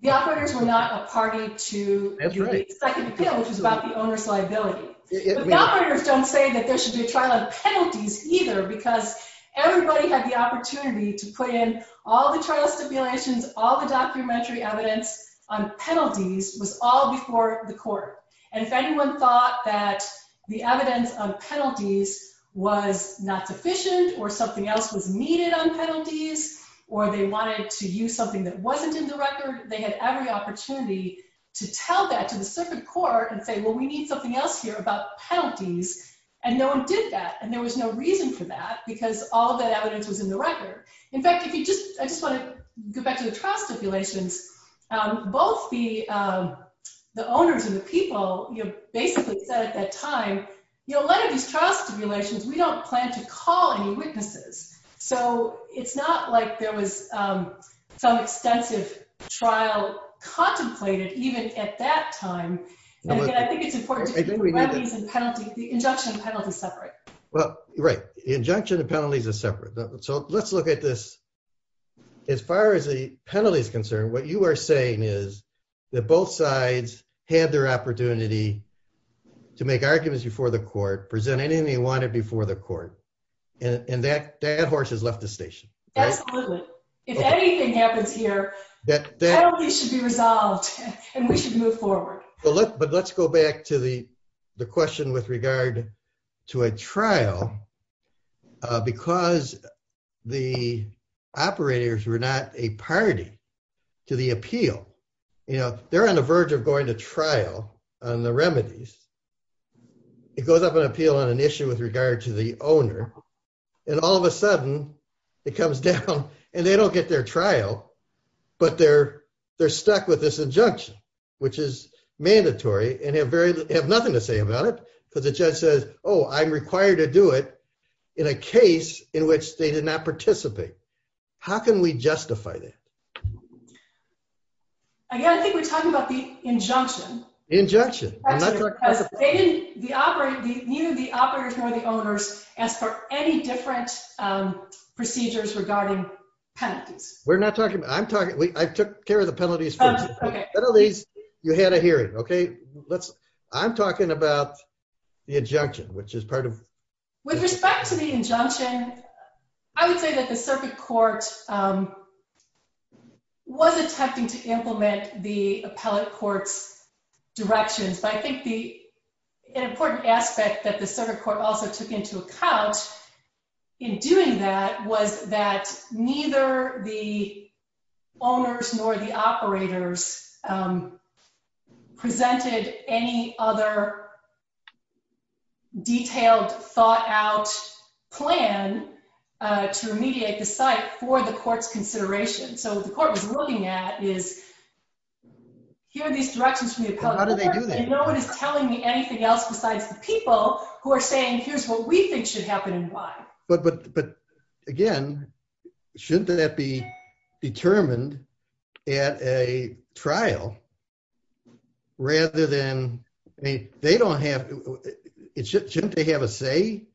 The operators were not a party to the second appeal, which is about the owner's liability. The operators don't say that there should be a trial on penalties either, because everybody had the opportunity to put in all the trial stipulations, all the documentary evidence on penalties was all before the court. And if anyone thought that the evidence of penalties was not sufficient, or something else was needed on penalties, or they wanted to use something that wasn't in the record, they had every opportunity to tell that to a separate court and say, well, we need something else here about penalties. And no one did that. And there was no reason for that, because all of that evidence was in the record. In fact, I just want to go back to the trial stipulations. Both the owners and the people basically said at that time, you know, let it be trial stipulations. We don't plan to call any witnesses. So it's not like there was some extensive trial contemplated, even at that time. And again, I think it's important that the injunction and penalties are separate. Right. The injunction and penalties are separate. So let's look at this. As far as the penalty is concerned, what you are saying is that both sides had their opportunity to make arguments before the court, present anything they wanted before the court. And that horse has left the station. Absolutely. If anything happens here, that penalty should be resolved and we should move forward. But let's go back to the question with regard to a trial, because the operators were not a party to the appeal. You know, they're on the verge of going to trial on the remedies. It goes up on appeal on an issue with regard to the owner. And all of a sudden, it comes down and they don't get their trial, but they're stuck with this injunction, which is mandatory. And they have nothing to say about it, because the judge says, oh, I'm required to do it in a case in which they did not participate. How can we justify that? Again, I think we're talking about the injunction. Injunction. The operators know the owners as for any different procedures regarding penalties. We're not talking about that. I took care of the penalties. You had a hearing. I'm talking about the injunction, which is part of it. With respect to the injunction, I would say that the circuit court was attempting to implement the appellate court's directions. But I think an important aspect that the circuit court also took into account in doing that was that neither the owners nor the operators presented any other detailed, thought-out plan to remediate the site for the court's consideration. So what the court was looking at is, here are these directions from the appellate court, and no one is telling me anything else besides the people who are saying, here's what we think should happen and why. But, again, shouldn't that be determined at a trial rather than, they don't have, shouldn't they have a say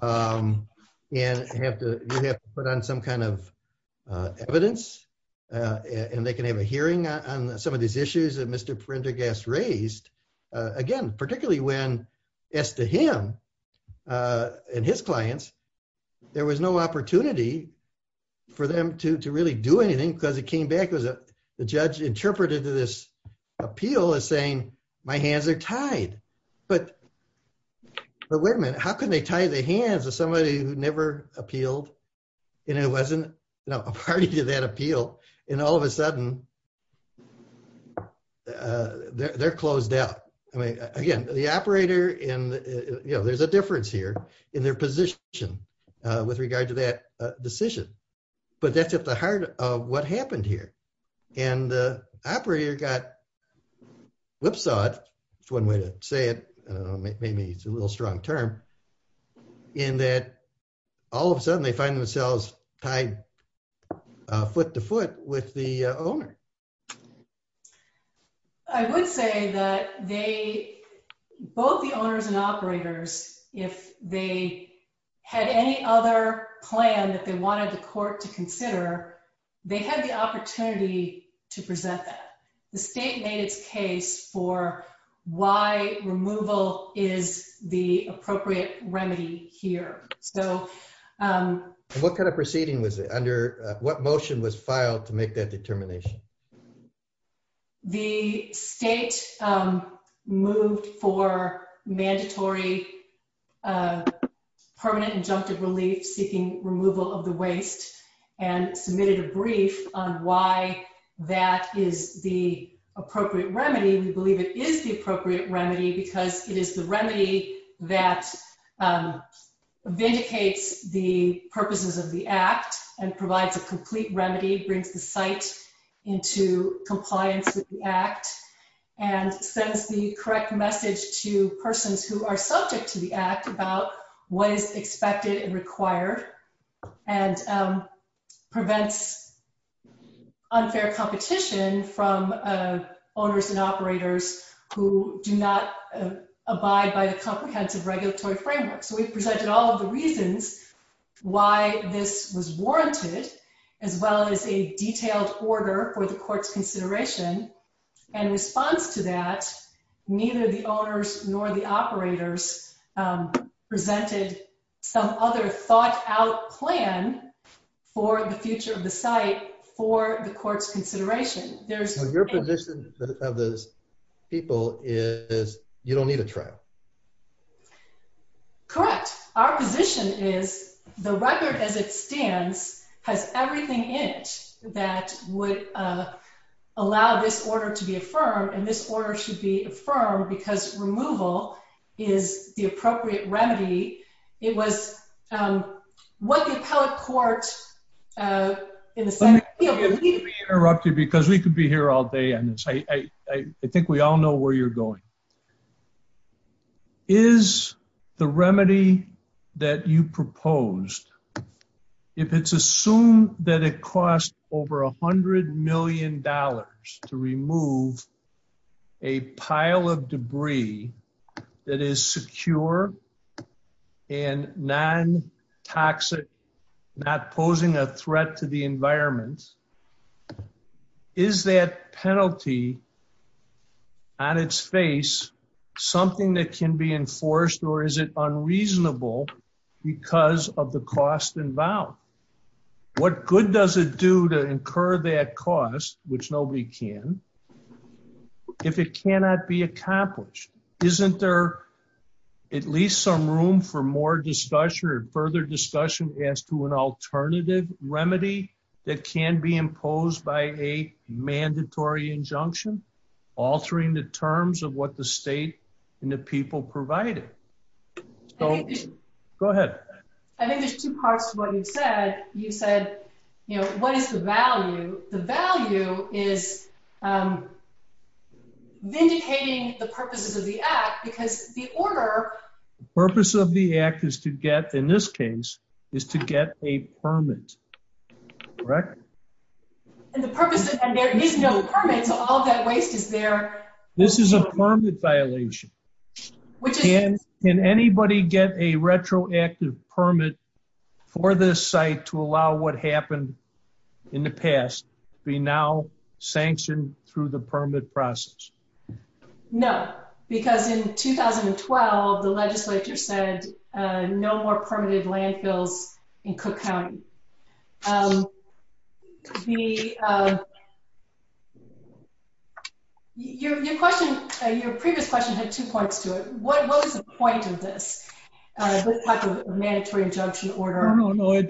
and have to put on some kind of evidence and they can have a hearing on some of these issues that Mr. Prendergast raised, again, particularly when, as to him and his clients, there was no opportunity for them to really do anything because it came back as the judge interpreted this appeal as saying, my hands are tied. But wait a minute, how can they tie their hands with somebody who never appealed? And it wasn't a party to that appeal. And all of a sudden, they're closed out. I mean, again, the operator and, you know, there's a difference here in their position with regard to that decision. But that's at the heart of what happened here. And the operator got whipsawed, that's one way to say it, maybe it's a little strong term, in that all of a sudden they find themselves tied foot to foot with the owner. I would say that they, both the owners and operators, if they had any other plan that they wanted the court to consider, they had the opportunity to present that. The state made its for why removal is the appropriate remedy here. What kind of proceeding was it? What motion was filed to make that determination? The state moved for mandatory permanent injunctive seeking removal of the waste and submitted a brief on why that is the appropriate remedy. We believe it is the appropriate remedy because it is the remedy that vindicates the purposes of the act and provides a complete remedy, brings the site into compliance with the act and sends the correct message to persons who are subject to the act about what is expected and required and prevents unfair competition from owners and operators who do not abide by the comprehensive regulatory framework. So we've presented all of the reasons why this was warranted as well as a detailed order for the court's consideration and in response to that, neither the owners nor the operators presented some other thought-out plan for the future of the site for the court's consideration. So your position of those people is you don't need a trial? Correct. Our position is the record as it stands has everything in it that would allow this order to be affirmed and this order should be affirmed because removal is the appropriate remedy. It was what the appellate court... Let me interrupt you because we could be here all day. I think we all know where you're going. Is the remedy that you proposed, if it's assumed that it costs over a hundred million dollars to remove a pile of debris that is secure and non-toxic, not posing a threat to the environment, is that penalty on its face something that can be enforced or is it unreasonable because of the cost involved? What good does it do to incur that cost, which nobody can, if it cannot be accomplished? Isn't there at least some room for more discussion or further alternative remedy that can be imposed by a mandatory injunction, altering the terms of what the state and the people provided? Go ahead. I think there's two parts to what you said. You said, you know, what is the value? The value is vindicating the purposes of the act because the order... The purpose of the act is to get, in this case, is to get a permit, correct? And the purpose is that there is no permit, but all that waste is there. This is a permit violation. Can anybody get a retroactive permit for this site to allow what happened in the past to be now sanctioned through the permit process? No, because in 2012, the legislature said no more permitted landfills in Cook County. Your question, your previous question, had two parts to it. What was the point of this, this type of mandatory injunction order? No, no, no.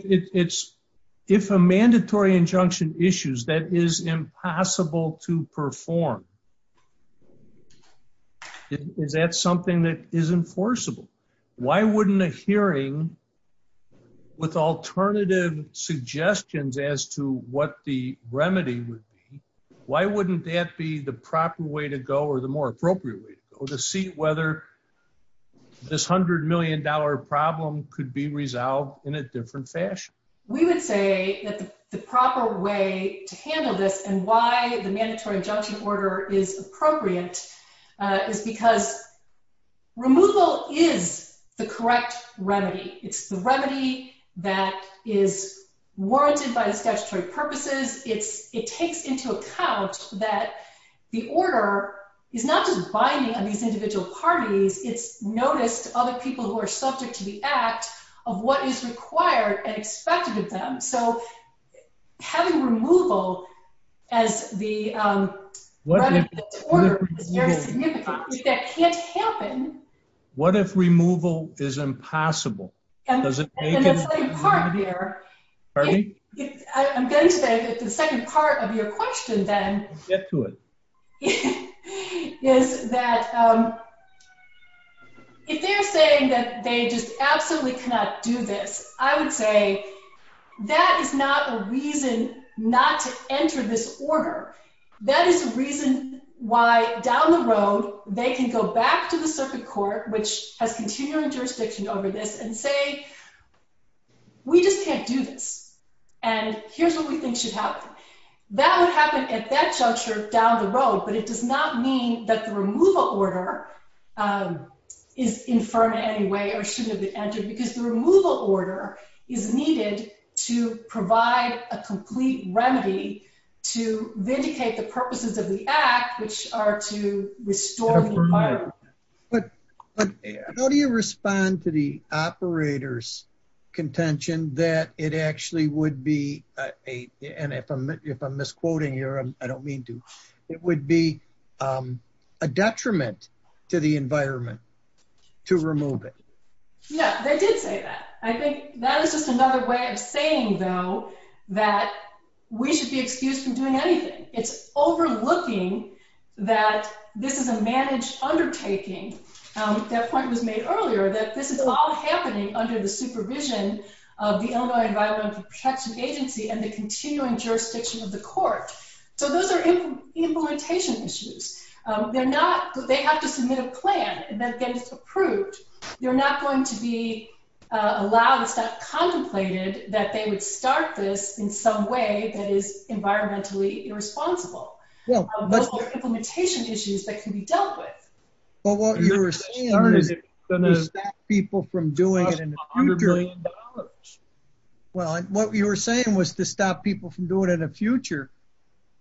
If a mandatory injunction issues, that is impossible to perform. Is that something that is enforceable? Why wouldn't a hearing with alternative suggestions as to what the remedy would be, why wouldn't that be the proper way to or the more appropriate way to see whether this $100 million problem could be resolved in a different fashion? We would say that the proper way to handle this and why the mandatory injunction order is appropriate is because removal is the correct remedy. It's the remedy that is warranted by the statutory purposes. It takes into account that the order is not just binding on these individual parties. It's notice to other people who are subject to the act of what is required and expected of them. So having removal as the order, that can't happen. What if removal is impossible? If they're saying that they just absolutely cannot do this, I would say that is not a reason not to enter this order. That is the reason why down the road they can go back to the circuit court, which has continuing jurisdiction over this, and say, we just can't do this, and here's what we think should happen. That would happen at that juncture down the road, but it does not mean that the removal order is inferred anyway or shouldn't have been entered, because the removal order is needed to provide a complete remedy to vindicate the purposes of the act, which are to restore the environment. But how do you respond to the operator's contention that it actually would be, and if I'm misquoting here, I don't mean to, it would be a detriment to the environment to remove it? Yes, they did say that. I think that is just another way of saying, though, that we should be excused from doing anything. It's overlooking that this is a managed undertaking. That point was made earlier, that this is all happening under the supervision of the Illinois Environmental Protection Agency and the continuing jurisdiction of the court. So those are implementation issues. They have to submit a plan, and then get it approved. You're not going to be allowed, if that's contemplated, that they would start this in some way that is environmentally irresponsible. Those are implementation issues that can be dealt with. What you were saying was to stop people from doing it in the future.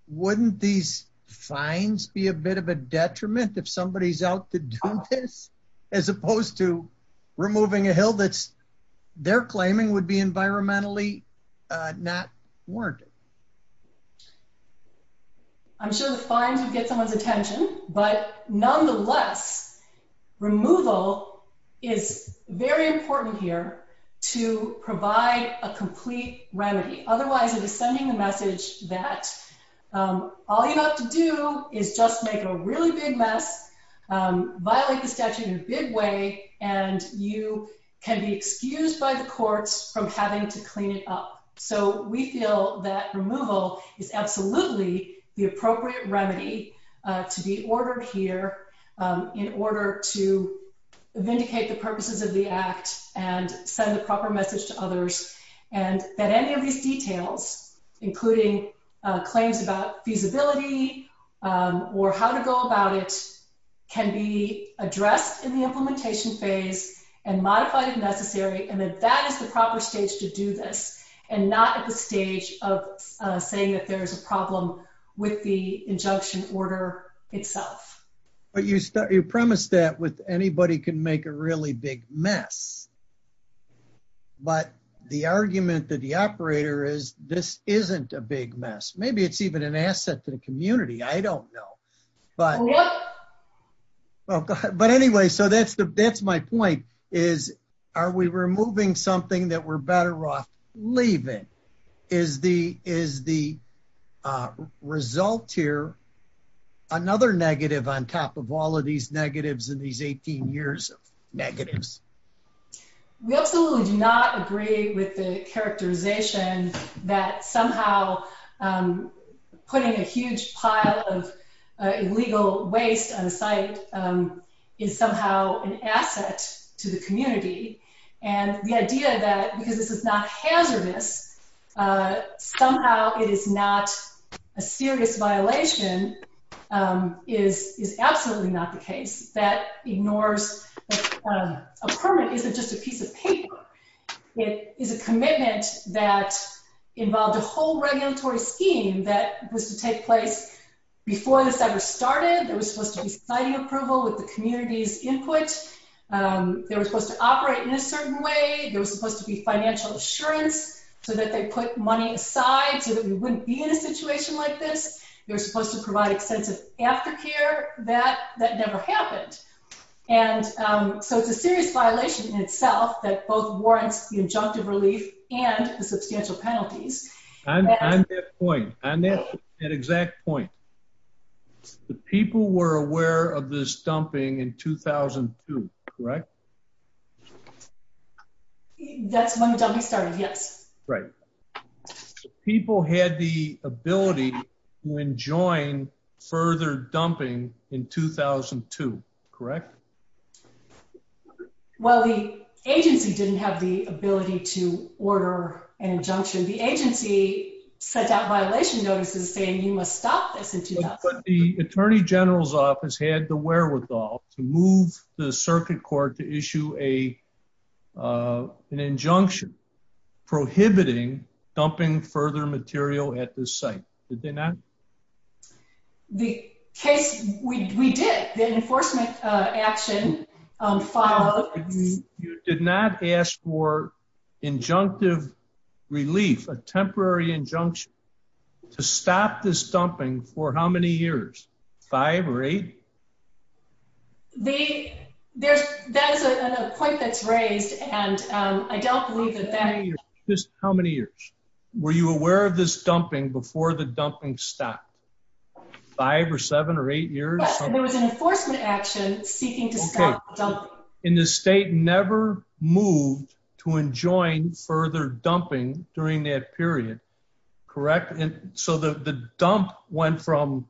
Wouldn't these fines be a bit of a detriment if somebody's out to do this, as opposed to removing a hill that they're claiming would be environmentally not warranted? I'm sure the fines would get some of the attention, but nonetheless, removal is very important here to provide a complete remedy. Otherwise, it is sending the message that all you have to do is just make a really big mess, violate the statute in a big way, and you can be excused by the court from having to clean it up. So we feel that removal is absolutely the appropriate remedy to be ordered here in order to vindicate the purposes of the act and send the proper message to others, and that any of these details, including claims about feasibility or how to go about it, can be addressed in the implementation phase and modified if necessary, and that that is the proper stage to do this, and not at the stage of saying that there's a problem with the injunction order itself. But you promised that with anybody can make a really big mess, but the argument that the operator is this isn't a big mess. Maybe it's even an asset to the community. I don't know, but anyway, so that's my point, is are we removing something that we're better off leaving? Is the result here another negative on top of all of these negatives in these 18 years of negatives? We absolutely do not agree with the characterization that somehow putting a huge pile of illegal waste on the site is somehow an asset to the community, and the idea that because this is not hazardous, somehow it is not a serious violation is absolutely not the case. That ignores a permit isn't just a piece of paper. It is a commitment that involves a whole regulatory scheme that was to take place before this ever started. There was supposed to be signing approval with the community's input. They were supposed to operate in a certain way. There was supposed to be financial assurance so that they put money aside so that we wouldn't be in a situation like this. They're supposed to provide expenses after here. That never happened, and so it's a serious violation in itself that both warrants the injunctive relief and the substantial penalties. On that exact point, the people were aware of this dumping in 2002, correct? That's when the dumping started, yes. Right. People had the ability to enjoin further dumping in 2002, correct? Well, the agency didn't have the ability to order an injunction. The agency said that violation notice was saying you must stop this. But the attorney general's office had the wherewithal to move the circuit court to issue an injunction prohibiting dumping further material at this site. Did they not? The case, we did. The enforcement action followed. You did not ask for injunctive relief, a temporary injunction to stop this dumping for how many years? Five or eight? That is a point that's raised, and I don't believe that that is true. How many years? Were you aware of this dumping before the dumping stopped? Five or seven or eight years? There was an enforcement action seeking to stop the dumping. And the state never moved to enjoin further dumping during that period, correct? So the dump went from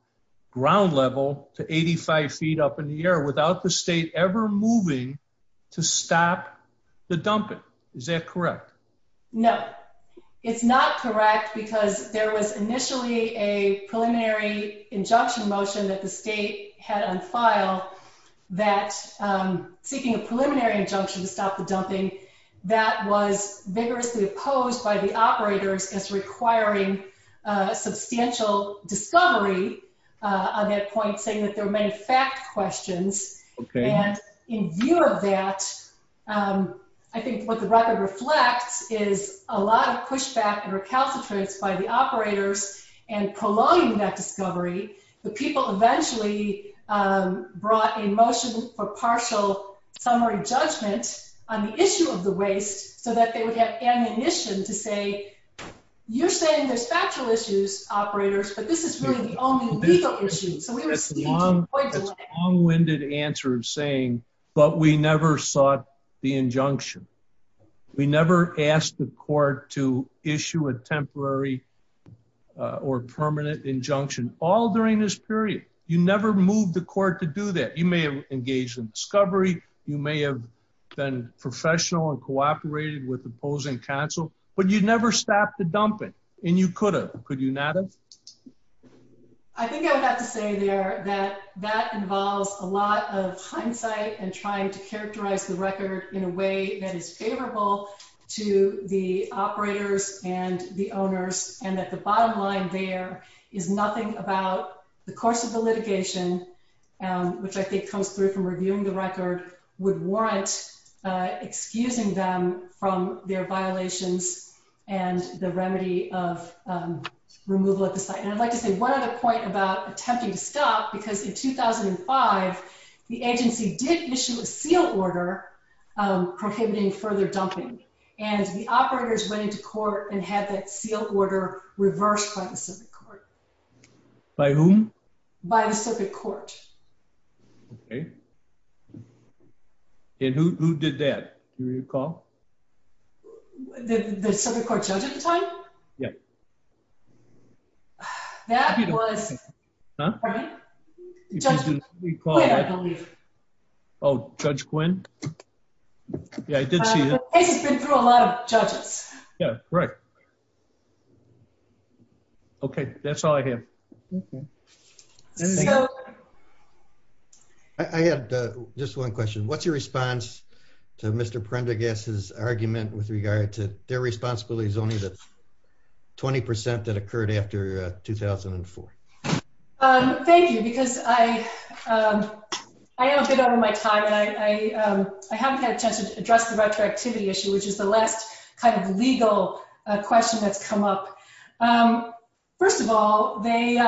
ground level to 85 feet up in the air without the state ever moving to stop the dumping. Is that correct? No. It's not correct because there was initially a preliminary injunction motion that the state had on file that seeking a preliminary injunction to stop the dumping that was vigorously opposed by the operators as requiring substantial discovery on that point, saying that there were many facts questioned. And in view of that, I think what the record reflects is a lot of pushback and recalcitrance by the operators and prolonging that discovery. The people eventually brought a motion for partial summary judgment on the issue of the waste so that they would get ammunition to say, you're saying there's factual issues, operators, but this is really the only legal issue. That's a long-winded answer saying, but we never sought the injunction. We never asked the court to issue a temporary or permanent injunction all during this period. You never moved the court to do that. You may have engaged in discovery. You may have been professional and cooperated with opposing counsel, but you never stopped the dumping. And you could have. Could you not have? I think I would have to say that that involves a lot of hindsight and trying to characterize the record in a way that is favorable to the operators and the owners, and that the bottom line there is nothing about the course of the litigation, which I think comes through from reviewing the record, would warrant excusing them from their violations and the remedy of removal at the site. And I'd like to say one other point about attempting to stop, because in 2005, the agency did issue a seal order prohibiting further dumping. And the operators went into court and had that seal order reversed by the Pacific Court. By whom? By the Pacific Court. Okay. And who did that? Do you recall? The Pacific Court judge at the time? Yeah. That was... Huh? Judge Quinn. Oh, Judge Quinn? Yeah, I did see that. I think it's been through a lot of judges. Yeah, right. Okay, that's all I have. Okay. I have just one question. What's your response to Mr. Prendergast's argument with regard to their responsibility zoning that's 20% that occurred after 2004? Thank you, because I am a bit out of my time, and I haven't had a chance to address the retroactivity issue, which is the last kind of legal question that's come up. First of all, they...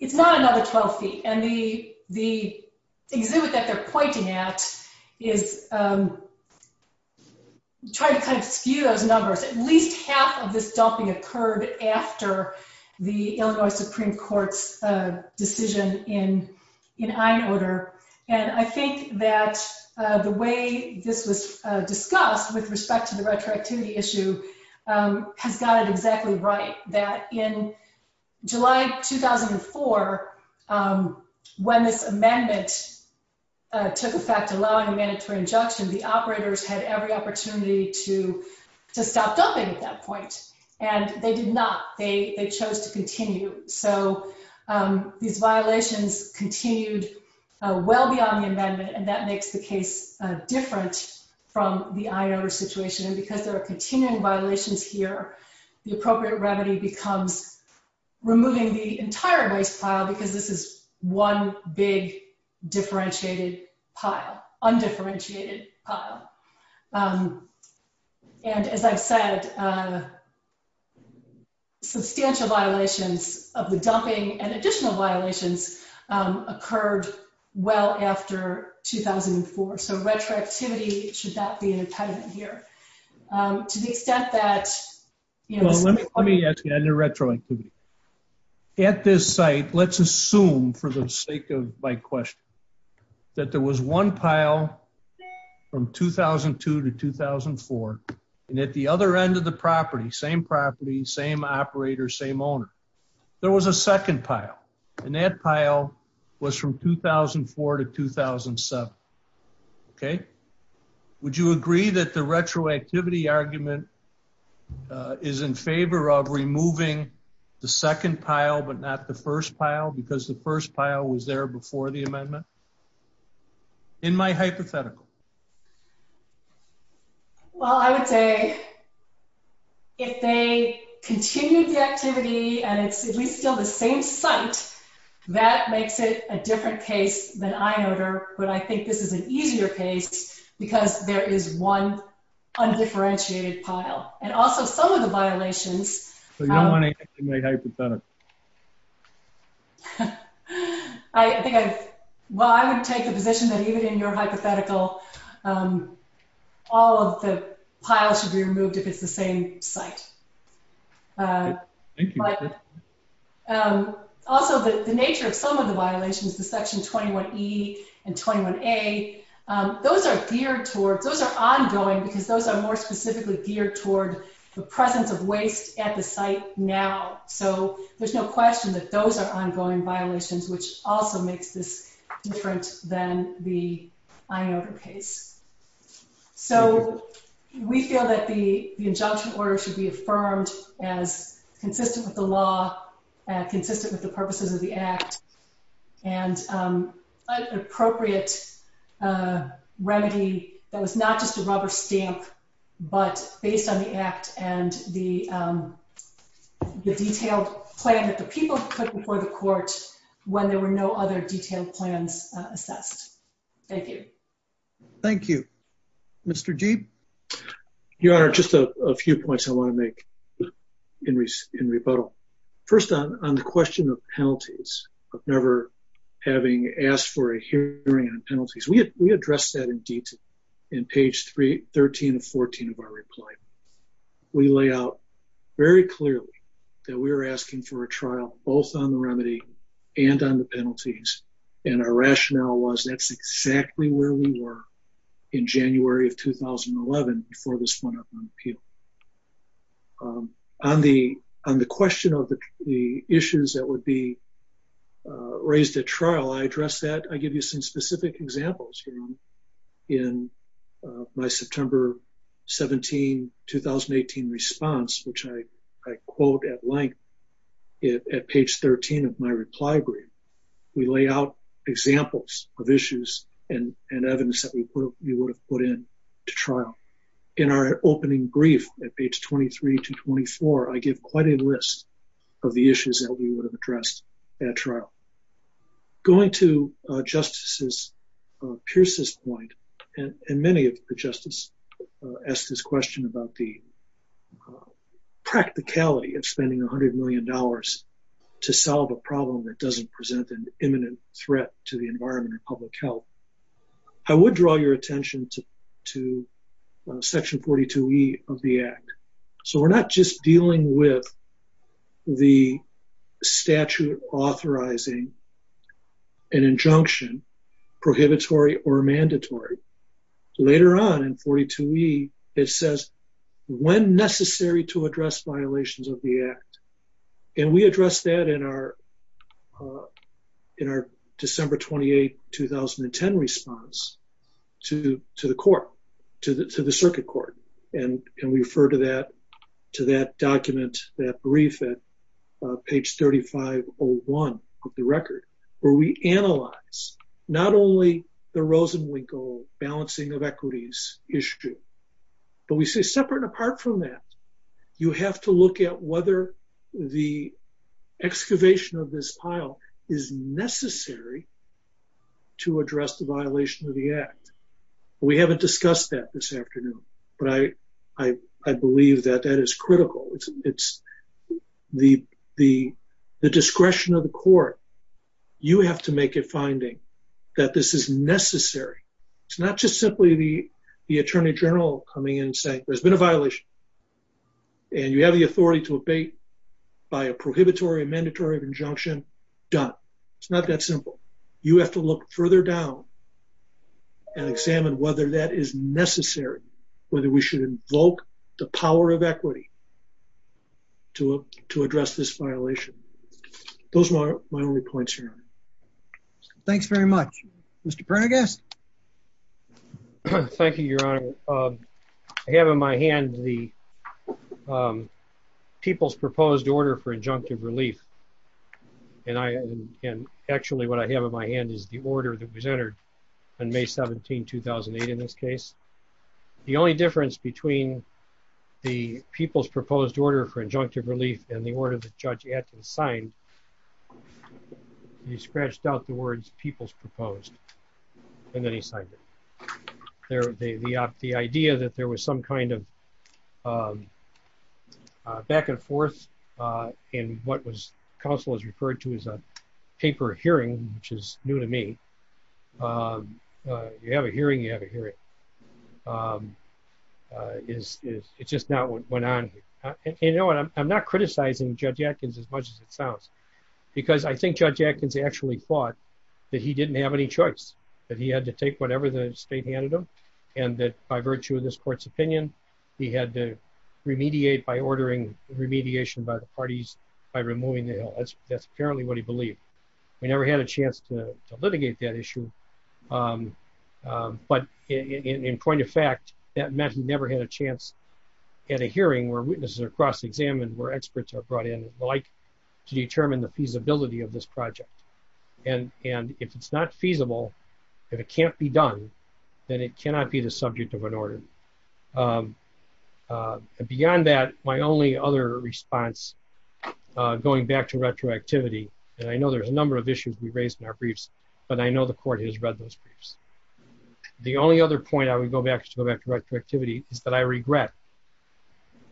It's not another 12 feet. And the exhibit that they're pointing at is trying to kind of skew those numbers. At least half of this dumping occurred after the Illinois Supreme Court's decision in Einholder. And I think that the way this was discussed with respect to the retroactivity issue has got it exactly right. That in July 2004, when this amendment took effect, allowing amendments for injunction, the operators had every opportunity to stop dumping at that point. And they did not. They chose to continue. So these violations continued well beyond the amendment, and that makes the case different from the Einholder situation. And because there are continuing violations here, the appropriate remedy becomes removing the entire waste pile, because this is one big differentiated pile. Undifferentiated pile. And as I said, substantial violations of the dumping and additional violations occurred well after 2004. So retroactivity should not be an impediment here. To the extent that... Let me ask you on the retroactivity. At this site, let's assume, for the sake of my question, that there was one pile from 2002 to 2004. And at the other end of the property, same property, same operator, same owner, there was a second pile. And that pile was from 2004 to 2007. Okay? Would you agree that the retroactivity argument is in favor of removing the second pile, but not the first pile, because the first pile was there before the amendment? In my hypothetical. Well, I would say, if they continued the activity, and it's at least still the same site, that makes it a different case than Einholder. But I think this is an easier case, because there is one undifferentiated pile. And also, some of the violations... So you don't want to execute a hypothetical? Well, I would take the position that even in your hypothetical, all of the piles should be removed if it's the same site. Thank you. Also, the nature of some of the violations, the Section 21E and 21A, those are geared towards... Those are ongoing, because those are more specifically geared towards the presence of waste at the site now. So, there's no question that those are ongoing violations, which also makes this different than the Einholder case. So, we feel that the injunction order should be affirmed as consistent with the law, and consistent with the purposes of the Act. And an appropriate remedy that was not just a rubber stamp, but based on the Act and the detailed plan that the people put before the court when there were no other detailed plans assessed. Thank you. Thank you. Mr. Deeb? Your Honor, just a few points I want to make in rebuttal. First, on the question of penalties, of never having asked for a hearing on penalties, we addressed that in detail in page 13 and 14 of our reply. We lay out very clearly that we were asking for a trial both on the remedy and on the penalties, and our rationale was that's exactly where we were in January of 2011, before this went up on appeal. On the question of the issues that would be raised at trial, I addressed that. I give you some specific examples, Your Honor. In my September 17, 2018 response, which I quote at length at page 13 of my reply brief, we lay out examples of issues and evidence that we would have put in to trial. In our opening brief at page 23 to 24, I give quite a list of the issues that we would have addressed at trial. Going to Justice Pierce's point, and many of the justices asked this question about the practicality of spending $100 million to solve a problem that doesn't present an imminent threat to the environment and public health, I would draw your attention to Section 42E of the Act. We're not just dealing with the statute authorizing an injunction, prohibitory or mandatory. Later on in 42E, it says, when necessary to address violations of the Act, and we addressed that in our December 28, 2010 response to the court, to the circuit court, and refer to that document, that brief at page 3501 of the record, where we analyze not only the Rosenwinkel balancing of equities issue, but we say separate and apart from that, you have to look at whether the excavation of this pile is necessary to address the violation of the Act. We haven't discussed that this afternoon, but I believe that that is critical. It's the discretion of the court. You have to make a finding that this is necessary. It's not just simply the attorney general coming in and saying, there's been a violation, and you have the authority to abate by a prohibitory or mandatory injunction. Done. It's not that simple. You have to look further down and examine whether that is necessary, whether we should invoke the power of equity to address this violation. Those are my only points here. Thanks very much. Mr. Pernodgas? Thank you, Your Honor. I have in my hand the people's proposed order for injunctive relief. Actually, what I have in my hand is the order that was entered on May 17, 2008, in this case. The only difference between the people's proposed order for injunctive relief and the order that Judge Atkins signed, he scratched out the words people's proposed, and then he signed it. The idea that there was some kind of back and forth in what counsel has referred to as a paper hearing, which is new to me. You have a hearing, you have a hearing. It's just not what went on here. You know what, I'm not criticizing Judge Atkins as much as it sounds. Because I think Judge Atkins actually thought that he didn't have any choice, that he had to take whatever the state handed him, and that by virtue of this court's opinion, he had to remediate by ordering remediation by the parties by removing the hill. That's apparently what he believed. We never had a chance to litigate that issue. But in point of fact, that meant we never had a chance at a hearing where witnesses are cross-examined, where experts are brought in to determine the feasibility of this project. And if it's not feasible, if it can't be done, then it cannot be the subject of an order. And beyond that, my only other response, going back to retroactivity, and I know there's a number of issues we raised in our briefs, but I know the court has read those briefs. The only other point I would go back to retroactivity is that I regret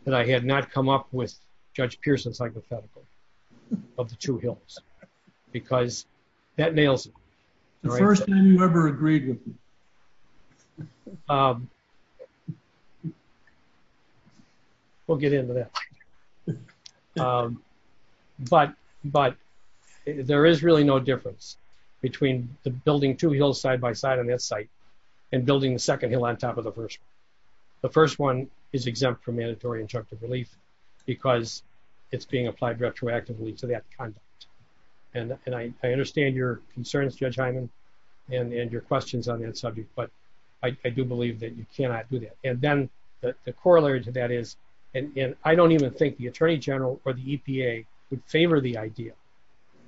that I had not come up with Judge Pearson's hypothetical of the two hills. Because that nails it. The first time you ever agreed with me. We'll get into that. But there is really no difference between building two hills side by side on that site and building the second hill on top of the first one. The first one is exempt from mandatory injunctive relief because it's being applied retroactively to that conduct. And I understand your concerns, Judge Hyman, and your questions on that subject, but I do believe that you cannot do that. And then the corollary to that is, and I don't even think the Attorney General or the EPA would favor the idea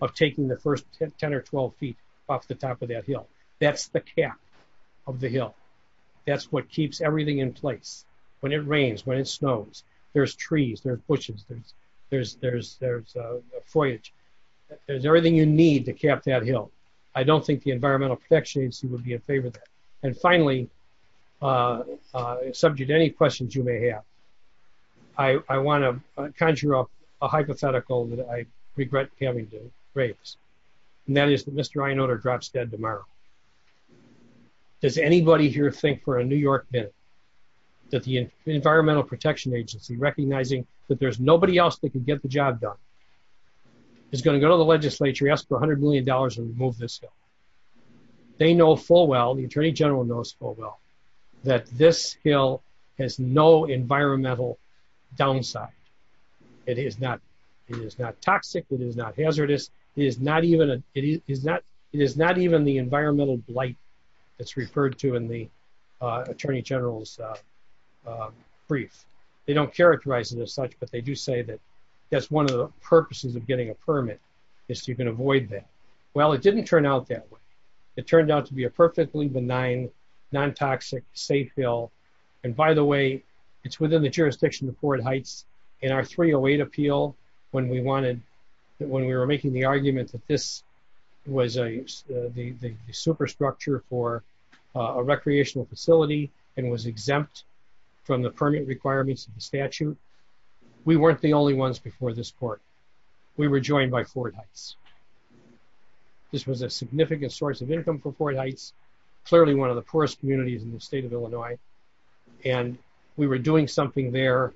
of taking the first 10 or 12 feet off the top of that hill. That's the cap of the hill. That's what keeps everything in place. When it rains, when it snows, there's trees, there's bushes, there's foliage. There's everything you need to cap that hill. I don't think the Environmental Protection Agency would be in favor of that. And finally, subject to any questions you may have, I want to conjure up a hypothetical that I regret having to raise. And that is that Mr. Einolder drops dead tomorrow. Does anybody here think for a New York minute that the Environmental Protection Agency, recognizing that there's nobody else that can get the job done, is going to go to the legislature, ask for $100 million, and remove this hill? They know full well, the Attorney General knows full well, that this hill has no environmental downside. It is not toxic. It is not hazardous. It is not even the environmental blight that's referred to in the Attorney General's brief. They don't characterize it as such, but they do say that that's one of the purposes of getting a permit is so you can avoid that. Well, it didn't turn out that way. It turned out to be a perfectly benign, non-toxic, safe hill. And by the way, it's within the jurisdiction of Ford Heights. In our 308 appeal, when we were making the argument that this was the superstructure for a recreational facility and was exempt from the permit requirements of the statute, we weren't the only ones before this court. We were joined by Ford Heights. This was a significant source of income for Ford Heights, clearly one of the poorest communities in the state of Illinois. And we were doing something there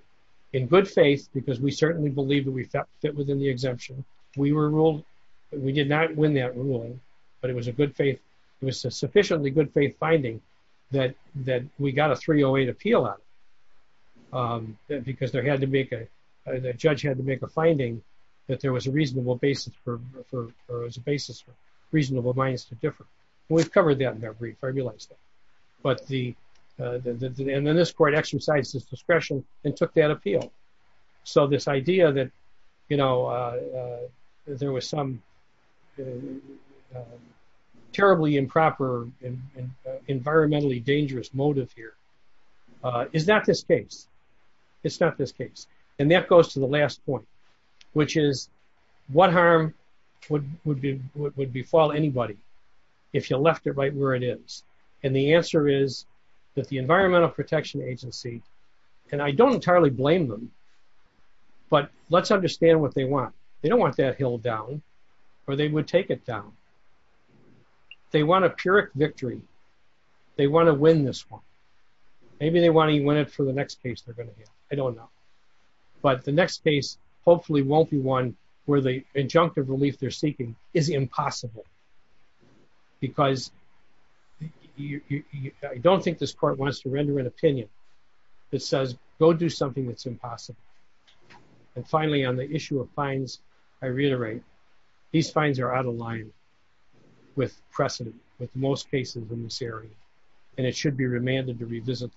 in good faith, because we certainly believe that we fit within the exemption. We were ruled, we did not win that rule, but it was a good faith, it was a sufficiently good faith finding that we got a 308 appeal out of it. Because they had to make a, the judge had to make a finding that there was a reasonable basis for, or it was a basis for reasonable minus to differ. We've covered that in our brief. But the, and then this court exercised its discretion and took that appeal. So this idea that, you know, there was some terribly improper environmentally dangerous motive here, is not this case. It's not this case. And that goes to the last point, which is what harm would befall anybody if you left it right where it is? And the answer is that the Environmental Protection Agency, and I don't entirely blame them, but let's understand what they want. They don't want that hill down, or they would take it down. They want a Pyrrhic victory. They want to win this one. Maybe they want to win it for the next case they're going to hear. I don't know. But the next case hopefully won't be one where the injunctive relief they're seeking is impossible. Because you, I don't think this court wants to render an opinion that says, go do something that's impossible. And finally, on the issue of fines, I reiterate, these fines are out of line with precedent, with most cases in this area. And it should be remanded to revisit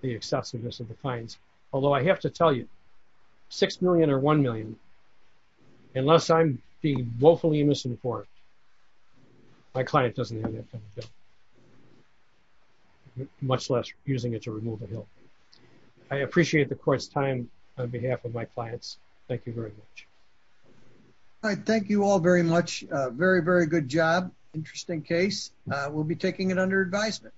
the excessiveness of the fines. Although I have to tell you, $6 million or $1 million, unless I'm being woefully misinformed, my client doesn't have that kind of debt. Much less refusing it to remove the hill. I appreciate the court's time on behalf of my clients. Thank you very much. All right. Thank you all very much. Very, very good job. Interesting case. We'll be taking it under advisement.